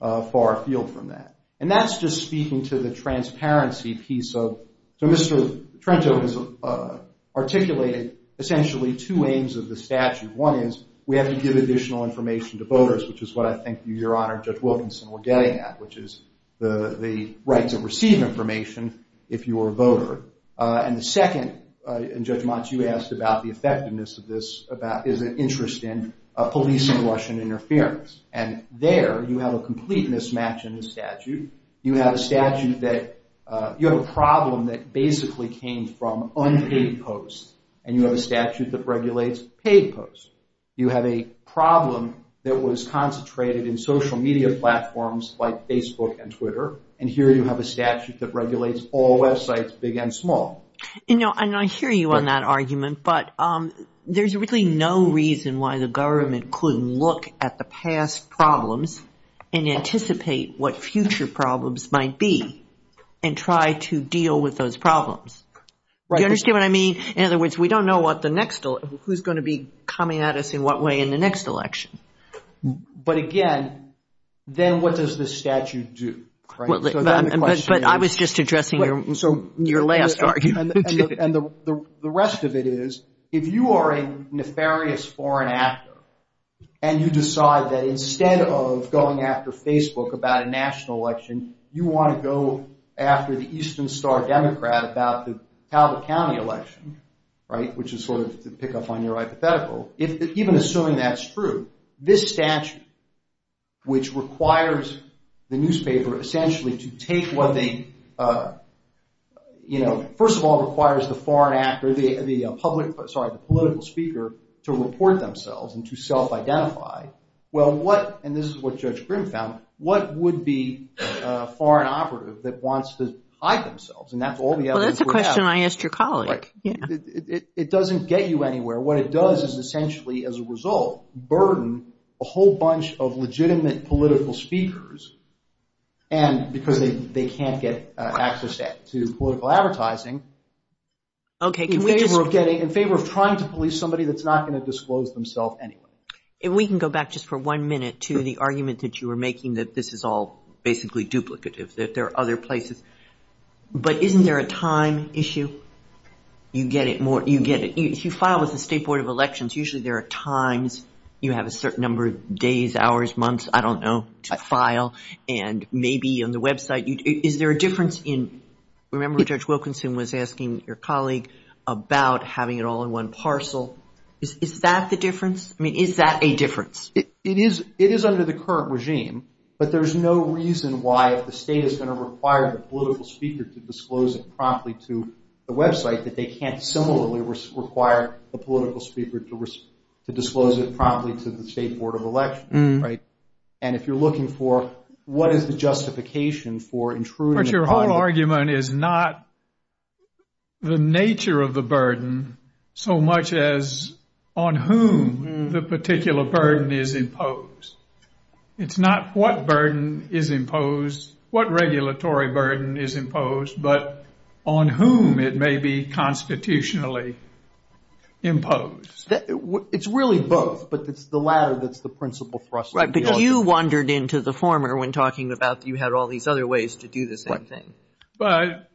far afield from that. And that's just speaking to the transparency piece of... So Mr. Trento has articulated essentially two aims of the statute. One is we have to give additional information to voters, which is what I think your Honor and Judge Wilkinson were getting at, which is the right to receive information if you are a voter. And the second, and Judge Mott, you asked about the effectiveness of this, is an interest in police and washing interference. And there you have a complete mismatch in the statute. You have a statute that... You have a problem that basically came from unpaid posts, and you have a statute that regulates paid posts. You have a problem that was concentrated in social media platforms like Facebook and Twitter, and here you have a statute that regulates all websites, big and small. And I hear you on that argument, but there's really no reason why the government could look at the past problems and anticipate what future problems might be and try to deal with those problems. Do you understand what I mean? In other words, we don't know who's going to be coming at us in what way in the next election. But again, then what does the statute do? But I was just addressing your last argument. The rest of it is, if you are a nefarious foreign actor and you decide that instead of going after Facebook about a national election, you want to go after the Eastern Star Democrat about the Calvert County election, which is sort of to pick up on your hypothetical, even assuming that's true, this statute, which requires the newspaper essentially to take what they... First of all, it requires the foreign actor, the political speaker, to report themselves and to self-identify. Well, what, and this is what Judge Grimm found, what would be a foreign operative that wants to hide themselves? Well, that's a question I asked your colleague. It doesn't get you anywhere. What it does is essentially, as a result, burden a whole bunch of legitimate political speakers and because they can't get access to political advertising in favor of trying to police somebody that's not going to disclose themselves anyway. If we can go back just for one minute to the argument that you were making that this is all basically duplicative, that there are other places. But isn't there a time issue? You get it more, you get it. If you file with the State Board of Elections, usually there are times you have a certain number of days, hours, months, I don't know, to file and maybe on the website. Is there a difference in, remember Judge Wilkinson was asking your colleague about having it all in one parcel. Is that the difference? I mean, is that a difference? It is under the current regime, but there's no reason why if the state is going to require the political speaker to disclose it promptly to the website, that they can't similarly require the political speaker to disclose it promptly to the State Board of Elections. And if you're looking for what is the justification for intruding... But your whole argument is not the nature of the burden so much as on whom the particular burden is imposed. It's not what burden is imposed, what regulatory burden is imposed, but on whom it may be constitutionally imposed. It's really both, but it's the latter that's the principal thrust. Right, but you wandered into the former when talking about you had all these other ways to do the same thing. But,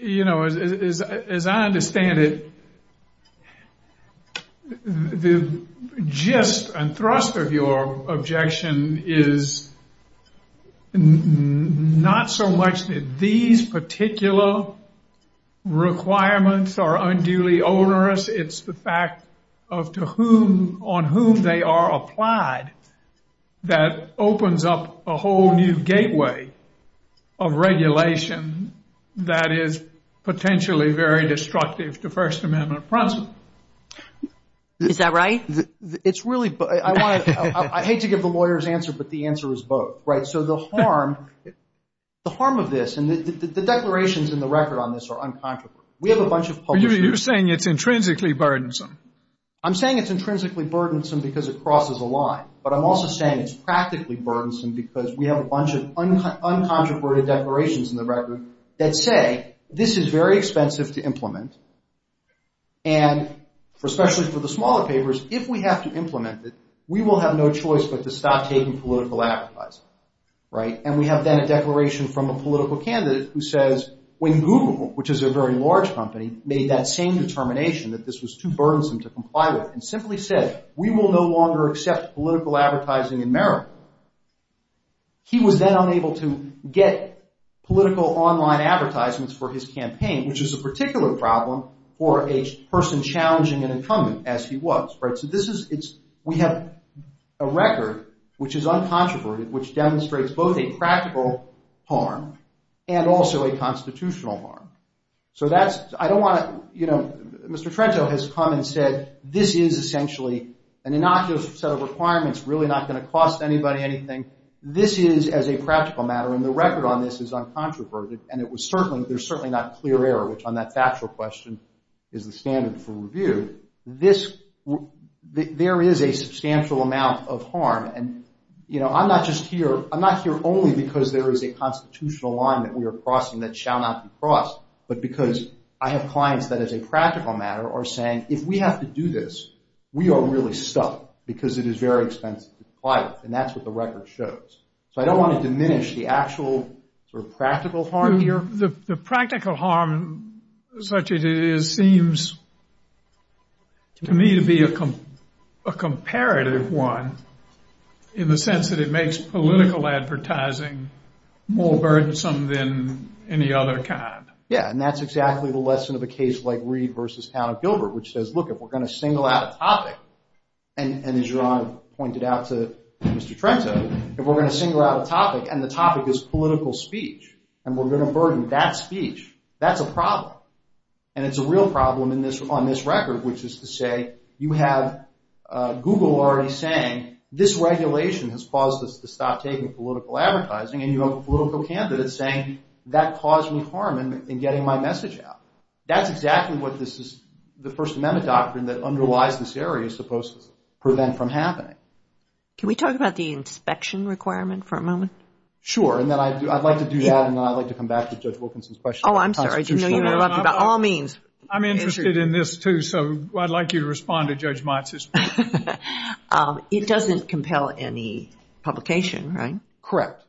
you know, as I understand it, the gist and thrust of your objection is not so much that these particular requirements are unduly onerous, it's the fact of to whom, on whom they are applied that opens up a whole new gateway of regulation that is potentially very destructive to First Amendment process. Is that right? It's really... I hate to give the lawyer's answer, but the answer is both. Right, so the harm of this, and the declarations in the record on this are uncontroversial. You're saying it's intrinsically burdensome. I'm saying it's intrinsically burdensome because it crosses a line, but I'm also saying it's practically burdensome because we have a bunch of uncontroverted declarations in the record that say this is very expensive to implement, and especially for the smaller papers, if we have to implement it, we will have no choice but to stop taking political advertising. And we have then a declaration from a political candidate who says, when Google, which is a very large company, made that same determination, that this was too burdensome to comply with, and simply said, we will no longer accept political advertising in America, he was then unable to get political online advertisements for his campaign, which is a particular problem for a person challenging an incumbent, as he was. Right, so this is... We have a record which is uncontroverted, which demonstrates both a practical harm and also a constitutional harm. So that's... I don't want to... You know, Mr. Trenchill has come and said, this is essentially an innocuous set of requirements, really not going to cost anybody anything. This is, as a practical matter, and the record on this is uncontroverted, and it was certainly... There's certainly not clear error, which on that factual question is the standard for review. This... There is a substantial amount of harm, and, you know, I'm not just here... Not because there is a constitutional line that we are crossing that shall not be crossed, but because I have clients that, as a practical matter, are saying, if we have to do this, we are really stuck, because it is very expensive to comply with, and that's what the record shows. So I don't want to diminish the actual sort of practical harm here. The practical harm, such as it is, seems to me to be a comparative one, in the sense that it makes political advertising more burdensome than any other kind. Yeah, and that's exactly the lesson of a case like Reid v. Al Gilbert, which says, look, if we're going to single out a topic, and as Your Honor pointed out to Mr. Trenchill, if we're going to single out a topic, and the topic is political speech, and we're going to burden that speech, that's a problem. And it's a real problem on this record, which is to say, you have Google already saying, this regulation has caused us to stop taking political advertising, and you have a political candidate saying, that caused me harm in getting my message out. That's exactly what this is, the First Amendment doctrine that underlies this area is supposed to prevent from happening. Can we talk about the inspection requirement for a moment? Sure, and then I'd like to do that, and then I'd like to come back to Judge Wilkinson's question. Oh, I'm sorry. You know you know nothing about all means. I'm interested in this too, so I'd like you to respond to Judge Monson's question. It doesn't compel any publication, right? Correct.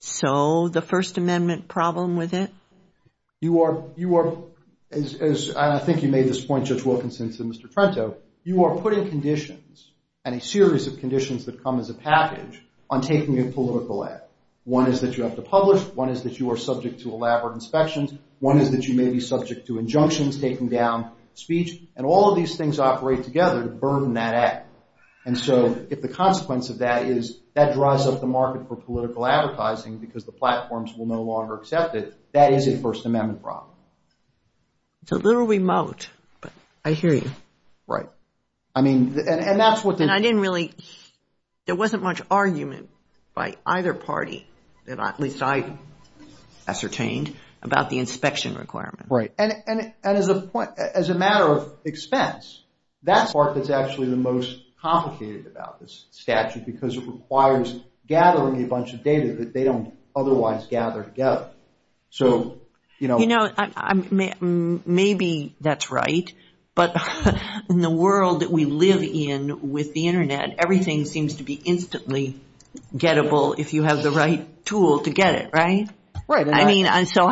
So, the First Amendment problem with it? You are, as I think you made this point, Judge Wilkinson, to Mr. Trenchill, you are putting conditions, and a series of conditions that come as a package, on taking a political ad. One is that you have to publish, one is that you are subject to elaborate inspections, one is that you may be subject to injunctions, taking down speech, and all of these things operate together to burden that ad. And so, if the consequence of that is that drives up the market for political advertising because the platforms will no longer accept it, that is a First Amendment problem. It's a little remote, but I hear you. Right. I mean, and that's what this is. And I didn't really, there wasn't much argument by either party, at least I ascertained, about the inspection requirement. Right. And as a matter of expense, that part is actually the most complicated about this statute because it requires gathering a bunch of data that they don't otherwise gather together. So, you know... You know, maybe that's right, but in the world that we live in with the Internet, everything seems to be instantly gettable if you have the right tool to get it, right? Right. I mean, so...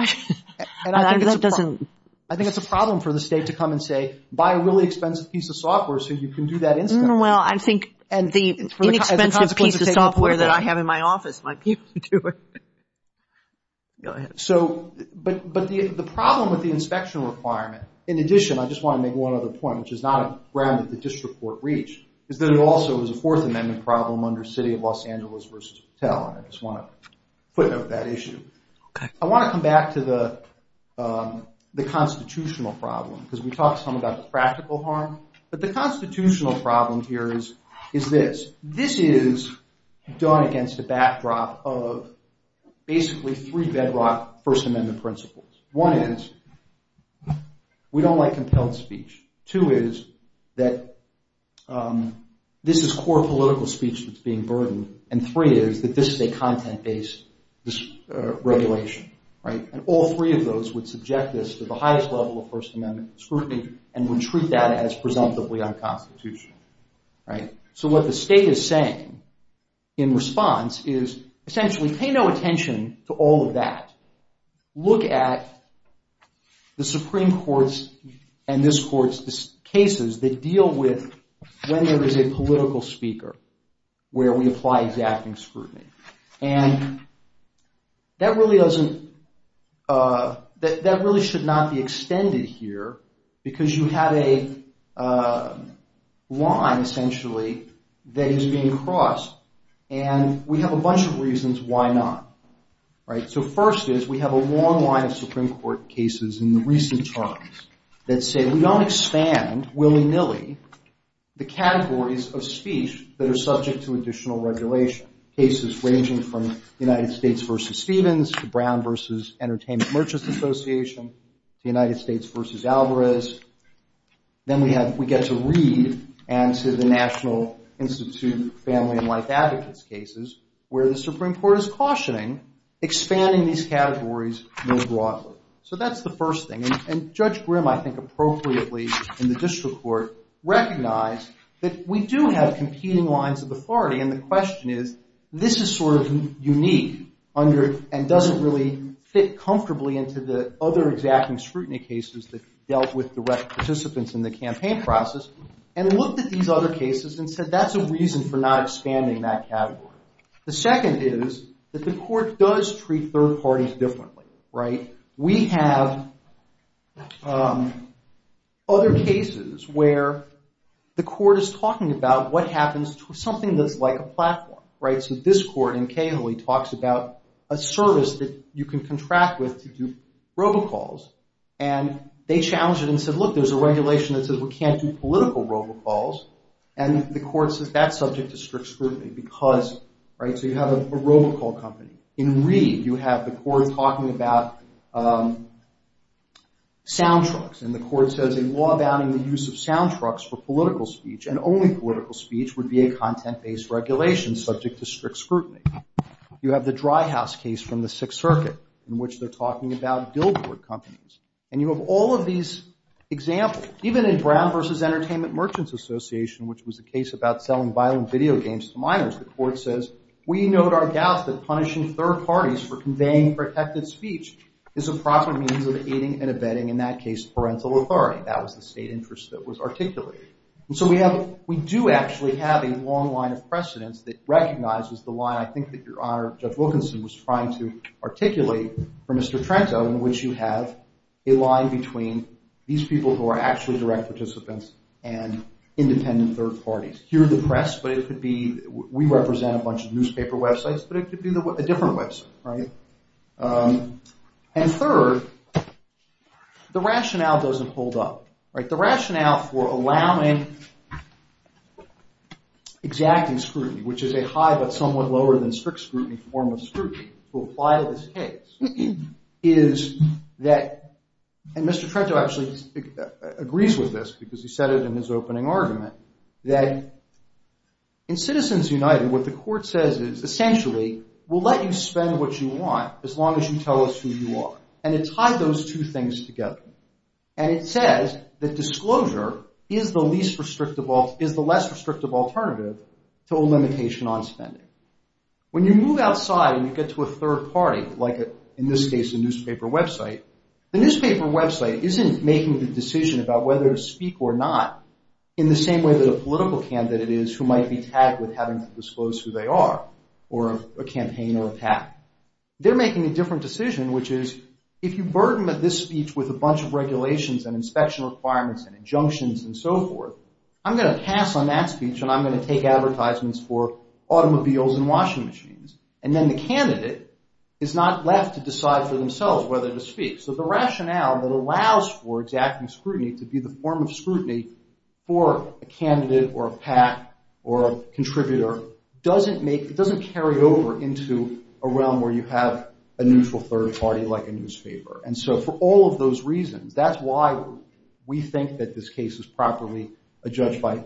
I think that's a problem for the state to come and say, buy a really expensive piece of software so you can do that instantly. Well, I think the inexpensive piece of software that I have in my office might be able to do it. Go ahead. So, but the problem with the inspection requirement, in addition, I just want to make one other point, which is not a ground that the district court reached, is that it also is a Fourth Amendment problem under City of Los Angeles v. Patel, and I just want to put that issue. I want to come back to the constitutional problem because we talked some about practical harm, but the constitutional problem here is this. This is done against a backdrop of basically three bedrock First Amendment principles. One is we don't like compelled speech. Two is that this is core political speech that's being burdened. And three is that this is a content-based regulation. And all three of those would subject this to the highest level of First Amendment scrutiny and would treat that as presumptively unconstitutional. So what the state is saying in response is, essentially, pay no attention to all of that. Look at the Supreme Court's and this court's cases that deal with whether there's a political speaker where we apply exacting scrutiny. And that really doesn't, that really should not be extended here because you have a line, essentially, that is being crossed, and we have a bunch of reasons why not. So first is we have a long line of Supreme Court cases in recent times that say we don't expand willy-nilly the categories of speech that are subject to additional regulation. Cases ranging from United States v. Stevens to Brown v. Entertainment Merchants Association to United States v. Alvarez. Then we get to Reed and to the National Institute of Family and Life Advocates cases where the Supreme Court is cautioning expanding these categories more broadly. So that's the first thing. And Judge Grimm, I think, appropriately, in the district court, recognized that we do have competing lines of authority and the question is, this is sort of unique and doesn't really fit comfortably into the other exacting scrutiny cases that dealt with direct participants in the campaign process and looked at these other cases and said that's a reason for not expanding that category. The second is that the court does treat third parties differently, right? We have other cases where the court is talking about what happens to something that's like a platform, right? So this court in Cahill talks about a service that you can contract with to do robocalls and they challenged it and said, look, there's a regulation that says we can't do political robocalls and the court said that's subject to strict scrutiny because, right, so you have a robocall company. In Reed, you have the court talking about sound trucks and the court says a law banning the use of sound trucks for political speech and only political speech would be a content-based regulation subject to strict scrutiny. You have the Dry House case from the Sixth Circuit in which they're talking about billboard companies and you have all of these examples. Even in Brown v. Entertainment Merchants Association which was a case about telling violent video games to minors, the court says, we note our doubt that punishing third parties for conveying protected speech is a proper meaning of aiding and abetting, in that case, parental authority. That was the state interest that was articulated. So we do actually have a long line of precedence that recognizes the line I think that Your Honor, Judge Wilkinson was trying to articulate for Mr. Trento in which you have a line between these people who are actually direct participants and independent third parties. Here in the press, but it could be we represent a bunch of newspaper websites but it could be a different website, right? And third, the rationale doesn't hold up. The rationale for allowing exacting scrutiny, which is a high but somewhat lower than strict scrutiny form of scrutiny to apply to this case is that and Mr. Trento actually agrees with this because he said it in his opening argument that in Citizens United what the court says is essentially we'll let you spend what you want as long as you tell us who you are. And it ties those two things together. And it says that disclosure is the less restrictive alternative to a limitation on spending. When you move outside and you get to a third party like in this case a newspaper website, the newspaper website isn't making the decision about whether to speak or not in the same way that a political candidate is who might be tagged with having to disclose who they are or a campaign or attack. They're making a different decision which is if you burden this speech with a bunch of regulations and inspection requirements and injunctions and so forth I'm going to pass on that speech for automobiles and washing machines. And then the candidate is not left to decide for themselves whether to speak. So the rationale that allows for exacting scrutiny to be the form of scrutiny for a candidate or a PAC or a contributor doesn't carry over into a realm where you have a neutral third party like a newspaper. And so for all of those reasons that's why we think that this case is properly judged by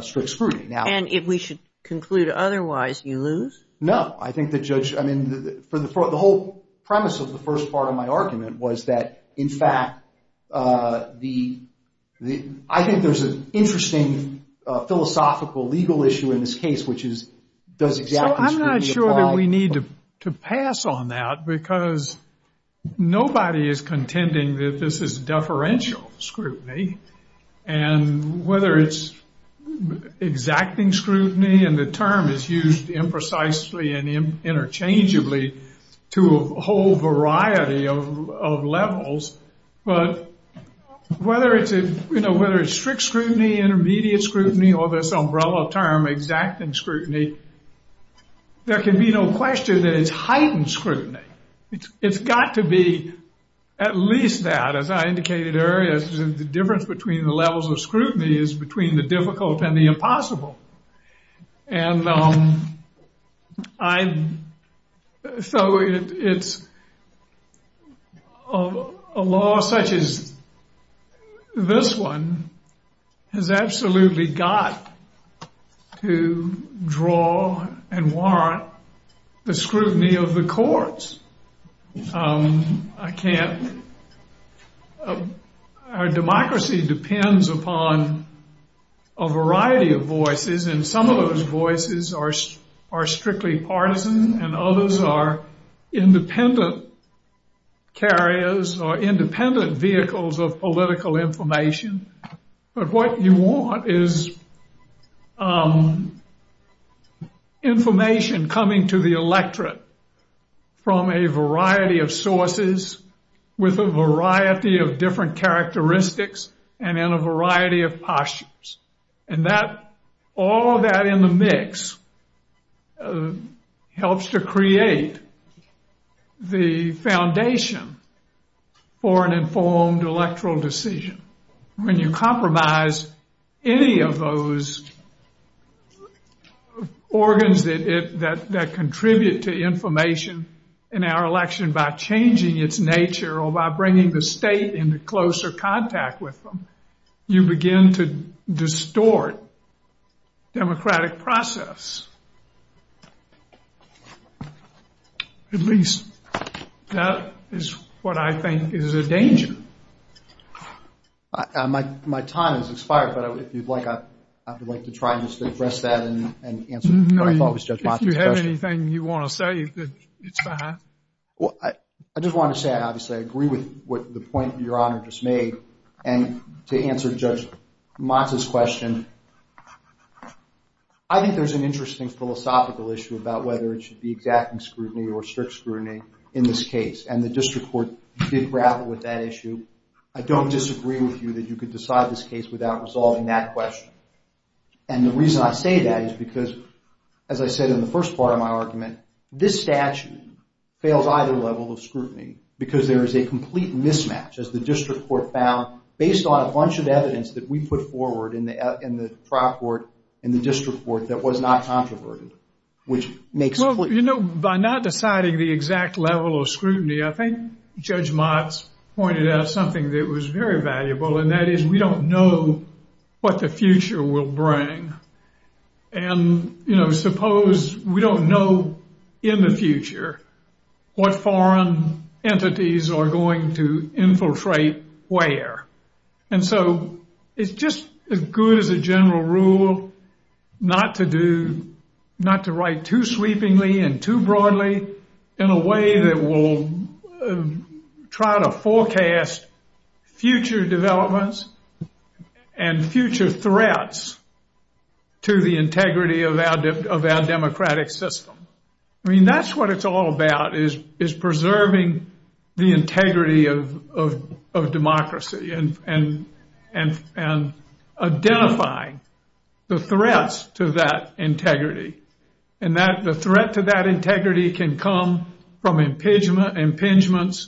strict scrutiny. And if we should conclude otherwise you lose? No, I think the judge, I mean the whole premise of the first part of my argument was that in fact I think there's an interesting philosophical legal issue in this case which is does exacting scrutiny I'm not sure that we need to pass on that because nobody is contending that this is deferential scrutiny and whether it's exacting scrutiny and the term is used imprecisely and interchangeably to a whole variety of levels but whether it's strict scrutiny intermediate scrutiny or this umbrella term exacting scrutiny there can be no question that it's heightened scrutiny. It's got to be at least that as I indicated earlier the difference between the levels of scrutiny is between the difficult and the impossible. And so it's a law such as this one has absolutely got to draw and warrant the scrutiny of the courts. I can't our democracy depends upon a variety of voices and some of those voices are strictly partisan and others are independent carriers or independent vehicles of political information but what you want is information coming to the electorate from a variety of sources with a variety of different characteristics and in a variety of postures and that all that in the mix helps to create the foundation for an informed electoral decision when you compromise any of those organs that contribute to information in our election by changing its nature or by bringing the state into closer contact with them you begin to distort democratic process. At least that is what I think is a danger. My time has expired but if you'd like I would like to try and address that and answer If you have anything you want to say you could I just want to say I agree with the point your honor just made and to answer Judge Mata's question I think there is an interesting philosophical issue about whether it should be exacting scrutiny or strict scrutiny in this case and the district court did grapple with that issue I don't disagree with you that you could decide this case without resolving that question and the reason I say that is because as I said in the first part of my argument this statute fails either level of scrutiny because there is a complete mismatch as the district court found based on a bunch of evidence that we put forward in the district court that was not controverted By not deciding the exact level of scrutiny I think Judge Mata pointed out something that was very valuable and that is we don't know what the future will bring and suppose we don't know in the future what foreign entities are going to infiltrate where and so it's just as good as a general rule not to write too sweepingly and too broadly in a way that will try to forecast future developments and future threats to the integrity of our democratic system I mean that's what it's all about is preserving the integrity of democracy and identifying the threats to that integrity and the threat to that integrity can come from impingements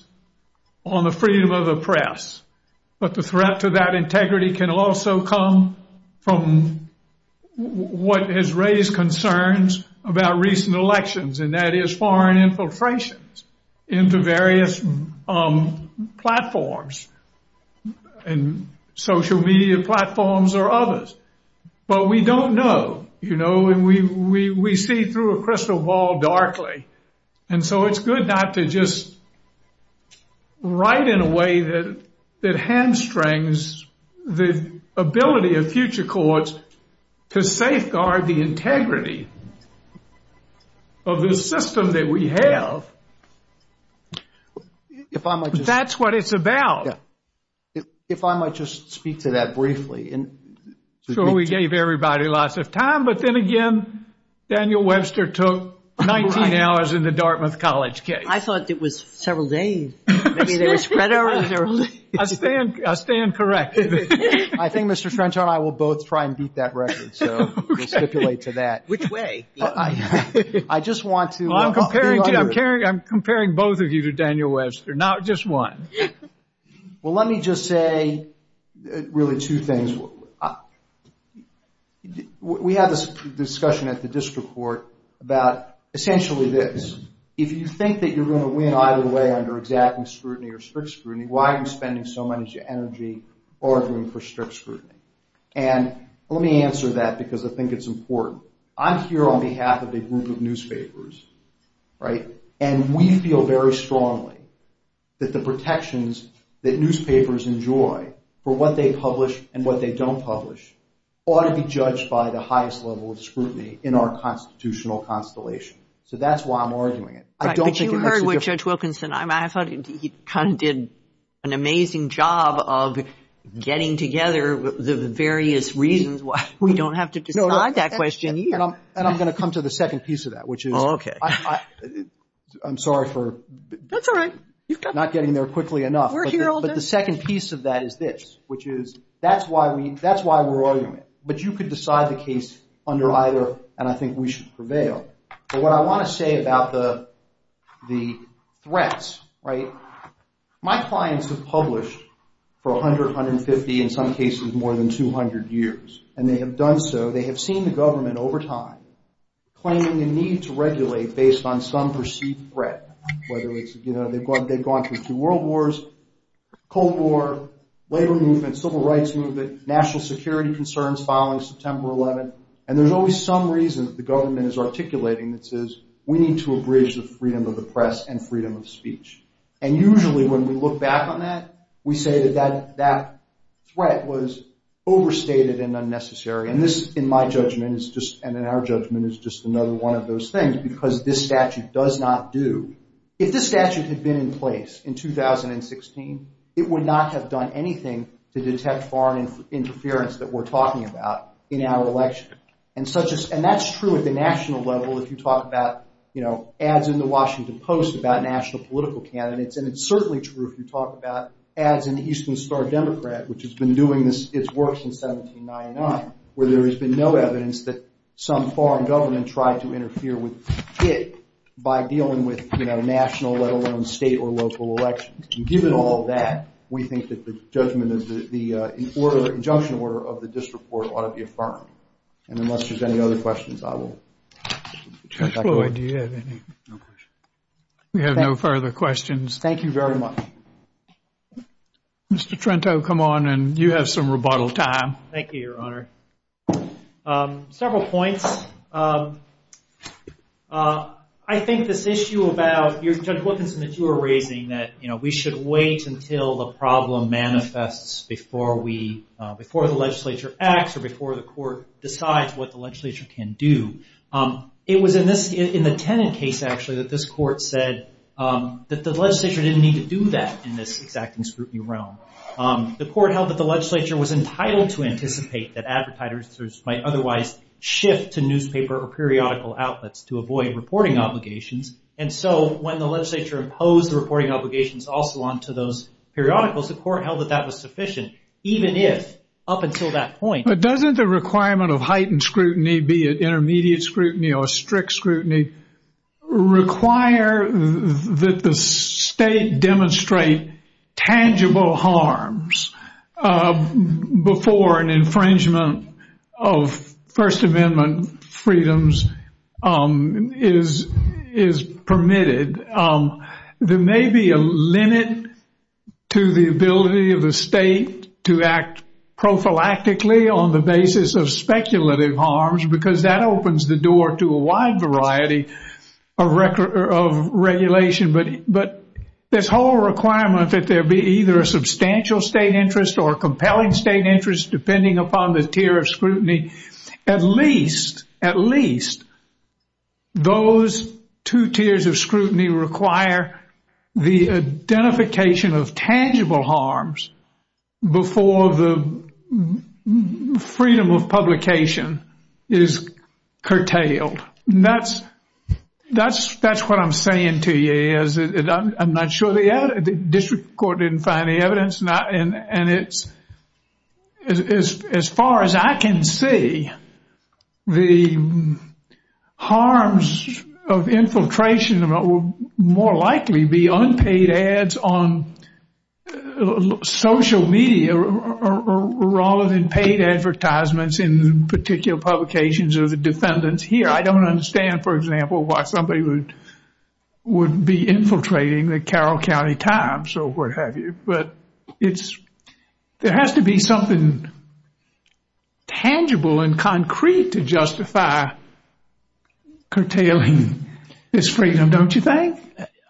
on the freedom of the press but the threat to that integrity can also come from what has raised concerns about recent elections and that is foreign infiltrations into various platforms and social media platforms or others but we don't know and we see through a crystal ball darkly and so it's good not to just write in a way that hamstrings the ability of future courts to safeguard the integrity of the system that we have that's what it's about If I might just speak to that briefly So we gave everybody lots of time but then again Daniel Webster took 19 hours in the Dartmouth College case I thought it was several days I mean there were spread hours I stand corrected I think Mr. French and I will both try and beat that record so we'll stipulate to that Which way? I just want to I'm comparing both of you to Daniel Webster not just one Well let me just say really two things We had this discussion at the district court about essentially this If you think that you're going to win either way under exacting scrutiny or strict scrutiny why are you spending so much energy arguing for strict scrutiny and let me answer that because I think it's important I'm here on behalf of a group of newspapers and we feel very strongly that the protections that newspapers enjoy for what they publish and what they don't publish ought to be judged by the highest level of scrutiny in our constitutional constellation So that's why I'm arguing it But you heard what Judge Wilkinson I thought he kind of did an amazing job of getting together the various reasons why we don't have to decide that question And I'm going to come to the second piece of that which is I'm sorry for not getting there quickly enough But the second piece of that is this which is that's why we're arguing it But you could decide the case under either and I think we should prevail But what I want to say about the threats My clients have published for 100, 150, in some cases more than 200 years and they have done so They have seen the government over time claiming the need to regulate based on some perceived threat They've gone through two world wars Cold War Labor movement Civil rights movement National security concerns following September 11 And there's always some reason that the government is articulating that says we need to abridge the freedom of the press and freedom of speech And usually when we look back on that we say that that threat was overstated and unnecessary And this, in my judgment, is just and in our judgment, is just another one of those things because this statute does not do If this statute had been in place in 2016 it would not have done anything to detect foreign interference that we're talking about in our election And that's true at the national level if you talk about ads in the Washington Post about national political candidates And it's certainly true if you talk about ads in the Eastern Star Democrat which has been doing its work since 1799 where there has been no evidence that some foreign government tried to interfere with it by dealing with national let alone state or local elections And given all of that we think that the judgment the injunction order of the district court ought to be affirmed And unless there's any other questions I will Judge Floyd, do you have any? We have no further questions Thank you very much Mr. Trento, come on and you have some rebuttal time Thank you, your honor Several points I think this issue about Judge Wilkinson, that you were raising that we should wait until the problem manifests before the legislature acts or before the court decides what the legislature can do It was in the Tennant case actually that this court said in this exacting scrutiny realm The court held that the legislature was entitled to anticipate that advertisers might otherwise shift to newspaper or periodical outlets to avoid reporting obligations and so when the legislature imposed reporting obligations also onto those periodicals, the court held that that was sufficient even if, up until that point But doesn't the requirement of heightened scrutiny be it intermediate scrutiny or strict scrutiny require that the state demonstrate tangible harms before an infringement of First Amendment freedoms is permitted There may be a limit to the ability of the state to act prophylactically on the basis of speculative harms because that opens the door to a wide variety of regulation but this whole requirement that there be either a substantial state interest or compelling state interest depending upon the tier of scrutiny at least at least those two tiers of scrutiny require the identification of tangible harms before the freedom of publication is curtailed That's what I'm saying to you I'm not sure the district court didn't find any evidence and it's as far as I can see the harms of infiltration will more likely be unpaid ads on social media rather than paid advertisements in particular publications of the defendants here I don't understand, for example, why somebody would be infiltrating the Carroll County Times or what have you There has to be something tangible and concrete to justify curtailing this freedom, don't you think?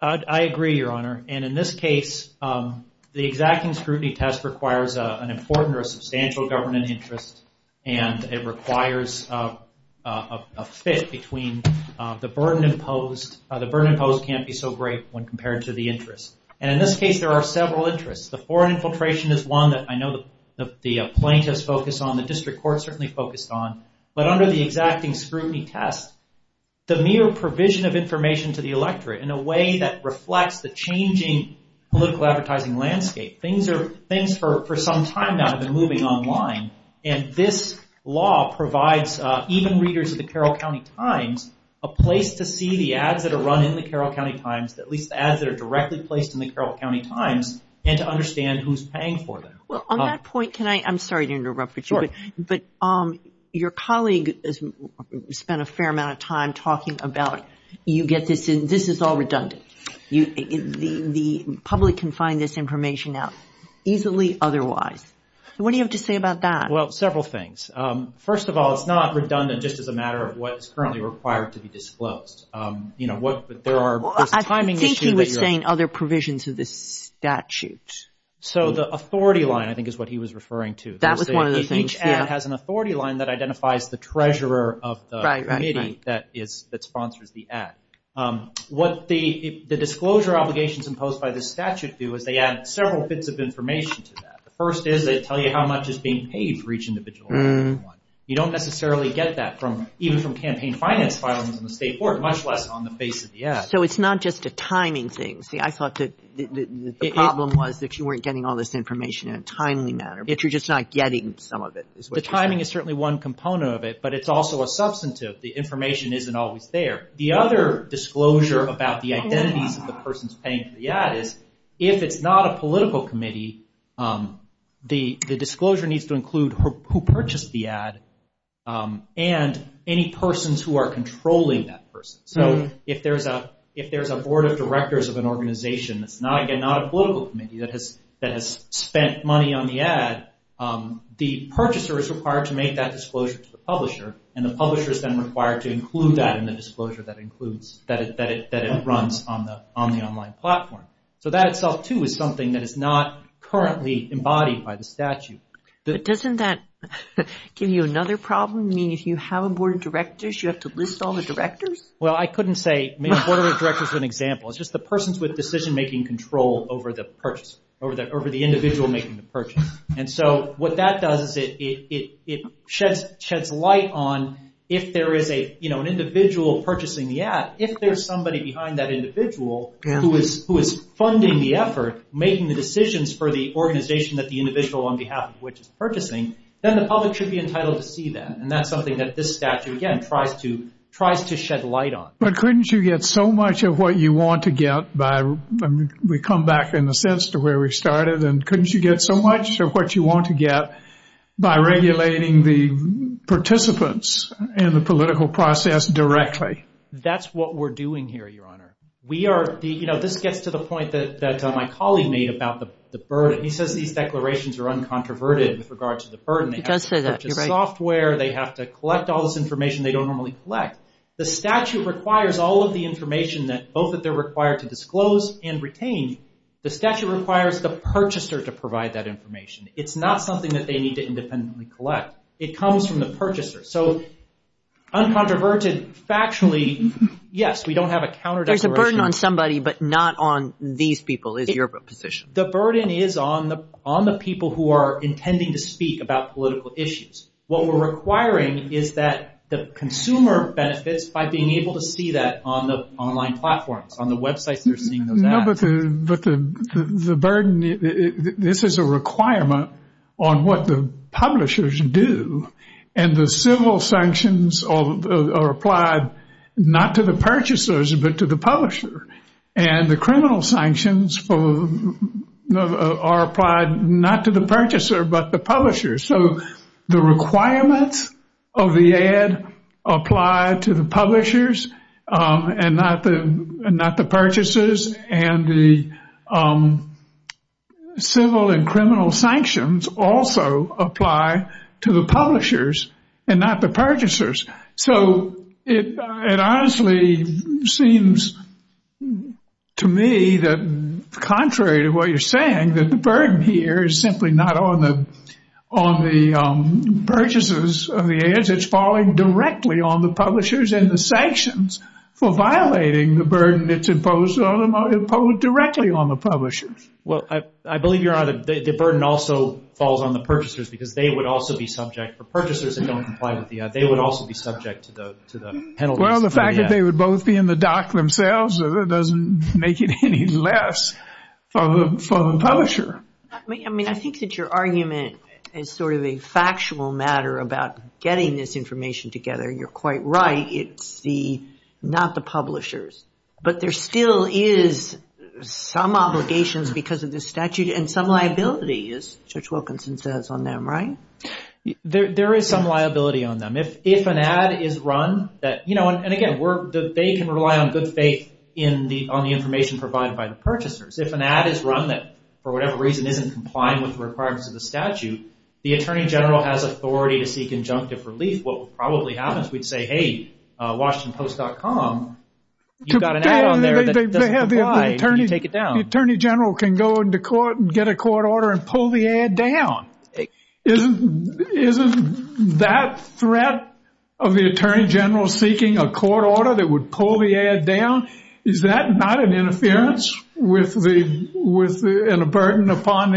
I agree, Your Honor and in this case the exacting scrutiny test requires an important or substantial government interest and it requires a fit between the burden imposed the burden imposed can't be so great when compared to the interest and in this case there are several interests the foreign infiltration is one that I know the plaintiffs focused on, the district court certainly focused on, but under the exacting scrutiny test the mere provision of information to the electorate in a way that reflects the changing political advertising landscape things for some time now have been moving online and this law provides even readers of the Carroll County Times a place to see the ads that are run in the Carroll County Times at least the ads that are directly placed in the Carroll County Times and to understand who's paying for them Well, on that point, can I I'm sorry to interrupt, but your colleague spent a fair amount of time talking about this is all redundant the public can find this information out easily otherwise what do you have to say about that? Well, several things. First of all, it's not redundant just as a matter of what's currently required to be disclosed I think he was saying other provisions of the statute so the authority line I think is what he was referring to each ad has an authority line that identifies the treasurer of the committee that sponsors the ad what the disclosure obligations imposed by the statute do is they add several bits of information to that. The first is they tell you how much is being paid for each individual ad you don't necessarily get that even from campaign finance much less on the face of the ad So it's not just a timing thing I thought the problem was that you weren't getting all this information in a timely manner, but you're just not getting some of it The timing is certainly one component of it but it's also a substantive the information isn't always there the other disclosure about the identity of the person paying for the ad is if it's not a political committee the disclosure needs to include who purchased the ad and any persons who are controlling that person. So if there's a board of directors of an organization that's not a political committee that has spent money on the ad the purchaser is required to make that disclosure to the publisher and the publisher is then required to include that in the disclosure that it runs on the online platform. So that itself too is something that is not currently embodied by the statute Doesn't that give you another problem? You mean if you have a board of directors you have to lose all the directors? Well I couldn't say, maybe a board of directors is an example. It's just the persons with decision making control over the purchase over the individual making the purchase and so what that does is it sheds light on if there is an individual purchasing the ad if there's somebody behind that individual who is funding the effort making the decisions for the organization that the individual on behalf of which is purchasing then the public should be entitled to see that and that's something that this statute again tries to shed light on But couldn't you get so much of what you want to get by we come back in a sense to where we started and couldn't you get so much of what you want to get by regulating the participants in the political process directly? That's what we're doing here your honor. We are this gets to the point that my colleague made about the burden he says these declarations are uncontroverted in regards to the burden software, they have to collect all this information they don't normally collect the statute requires all of the information both that they're required to disclose and retain, the statute requires the purchaser to provide that information it's not something that they need to independently collect. It comes from the purchaser so uncontroverted factually, yes there's a burden on somebody but not on these people the burden is on the people who are intending to speak about political issues what we're requiring is that the consumer benefits by being able to see that on the online platforms, on the websites the burden this is a requirement on what the publishers do and the civil sanctions are applied not to the purchaser but to the publisher and the criminal sanctions are applied not to the purchaser but the publisher so the requirement of the ad apply to the publishers and not the purchasers and the civil and criminal sanctions also apply to the publishers and not the purchasers so it honestly seems to me that contrary to what you're saying that the burden here is simply not on the purchasers of the ads it's falling directly on the publishers and the sanctions for violating the burden that's imposed directly on the publishers well I believe you're right the burden also falls on the purchasers because they would also be subject for purchasers that don't comply with the ad they would also be subject to the penalty well the fact that they would both be in the dock themselves doesn't make it any less for the publisher I think that your argument is sort of a factual matter about getting this information together you're quite right it's not the publishers but there still is some obligations because of the statute and some liabilities Church-Wilkinson says on them, right? there is some liability on them if an ad is run and again they can rely on good faith on the information provided by the purchasers if an ad is run that for whatever reason isn't complying with the requirements of the statute the attorney general has authority to seek injunctive relief what would probably happen is we'd say hey washingtonpost.com you've got an ad on there that doesn't comply the attorney general can go into court and get a court order and pull the ad down isn't that threat of the attorney general seeking a court order that would pull the ad down is that not an interference with the burden upon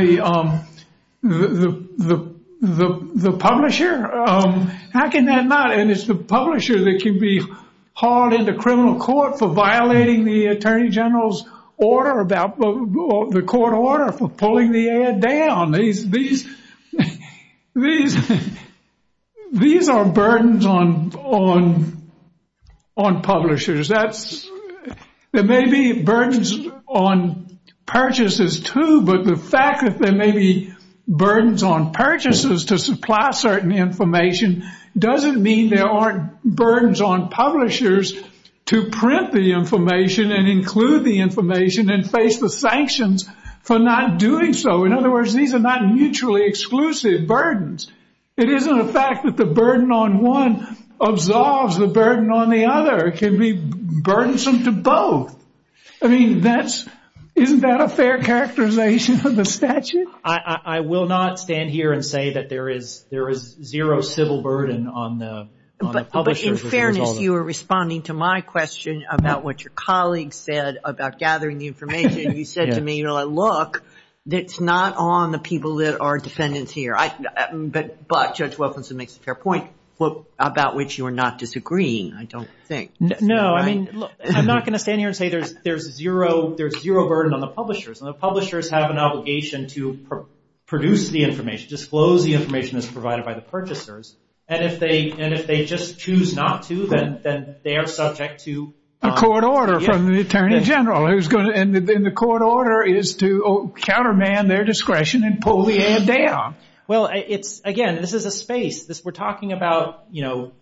the publisher how can that not and it's the publisher that can be hauled into criminal court for the court order for pulling the ad down these these are burdens on on publishers there may be burdens on purchases too but the fact that there may be burdens on purchases to supply certain information doesn't mean there aren't burdens on publishers to print the information and include the information and face the sanctions for not doing so in other words these are not mutually exclusive burdens it isn't a fact that the burden on one absolves the burden on the other it can be burdensome to both isn't that a fair characterization of the statute I will not stand here and say that there is zero civil burden on the publisher in fairness you were responding to my question about what your colleague said about gathering the information you said to me look it's not on the people that are defendants here Judge Wilkinson makes a fair point about which you are not disagreeing I don't think I'm not going to stand here and say there's zero there's zero burden on the publishers and the publishers have an obligation to produce the information disclose the information that's provided by the purchasers and if they just choose not to then they are subject to a court order from the Attorney General and the court order is to counterman their discretion and pull the hand down well again this is a space we're talking about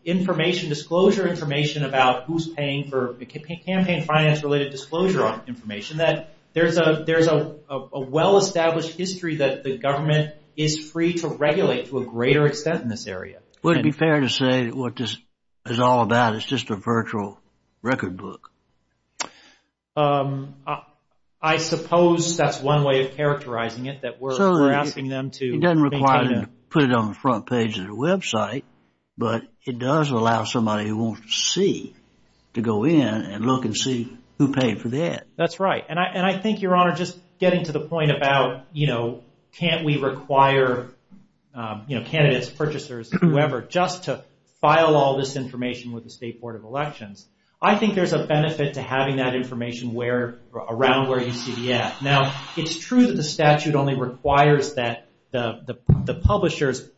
information disclosure information about who's paying for campaign finance related disclosure information that there's a well established history that the government is free to regulate to a greater extent in this area wouldn't it be fair to say what this is all about is just a virtual record book I suppose that's one way of characterizing it that we're asking them to it doesn't require them to put it on the front page of their website but it does allow somebody who won't see to go in and look and see who paid for that that's right and I think your honor just getting to the point about you know can't we require candidates, purchasers, whoever just to file all this information with the State Board of Elections I think there's a benefit to having that information around where you see the app now it's true that the statute only requires that the publishers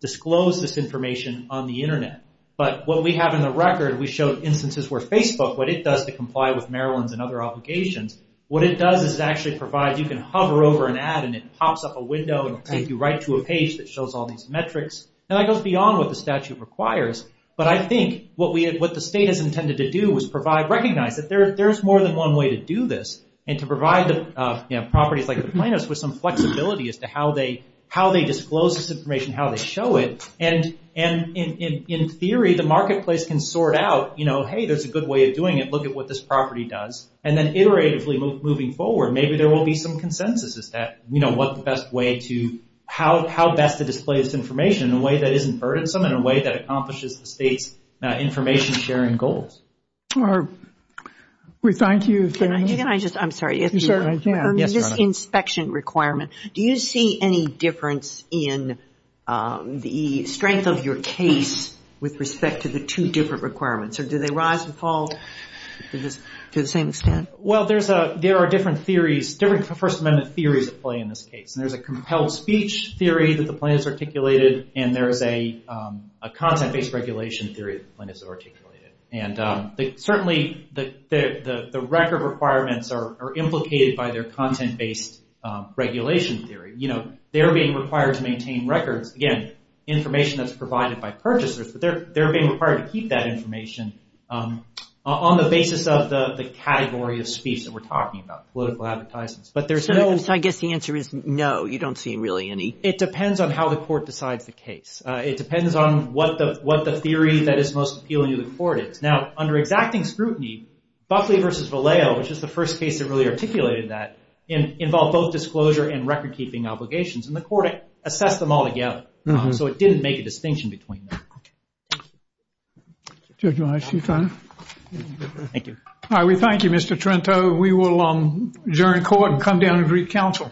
disclose this information on the internet but what we have in the record we showed instances where Facebook what it does to comply with Maryland and other obligations what it does is actually provide you can hover over an ad and it pops up a window and take you right to a page that shows all these metrics and I don't beyond what the statute requires but I think what the state has intended to do is provide, recognize that there's more than one way to do this and to provide the properties like the plaintiffs with some flexibility as to how they disclose this information, how they show it and in theory the marketplace can sort out you know hey there's a good way of doing it look at what this property does and then iteratively moving forward maybe there will be some consensus as to what's the best way to, how best to display this information in a way that isn't burdensome in a way that accomplishes the state's information sharing goals Barb, we thank you Can I just, I'm sorry on this inspection requirement do you see any difference in the strength of your case with respect to the two different requirements do they rise and fall to the same extent Well there's a, there are different theories different First Amendment theories play in this case there's a compelled speech theory that the plaintiffs articulated and there's a a content-based regulation theory that the plaintiffs articulated and certainly the record requirements are implicated by their content-based regulation theory, you know they're being required to maintain records again, information that's provided by purchasers but they're being required to keep that information on the basis of the category of speech that we're talking about, political advertisements So I guess the answer is no, you don't see really any It depends on how the court decides the case it depends on what the theory that is most appealing to the court is now, under exacting scrutiny Buckley v. Vallejo, which is the first case that really articulated that, involved both disclosure and record-keeping obligations and the court assessed them all together so it didn't make a distinction between them Thank you We thank you, Mr. Trento We will adjourn court and come down and greet counsel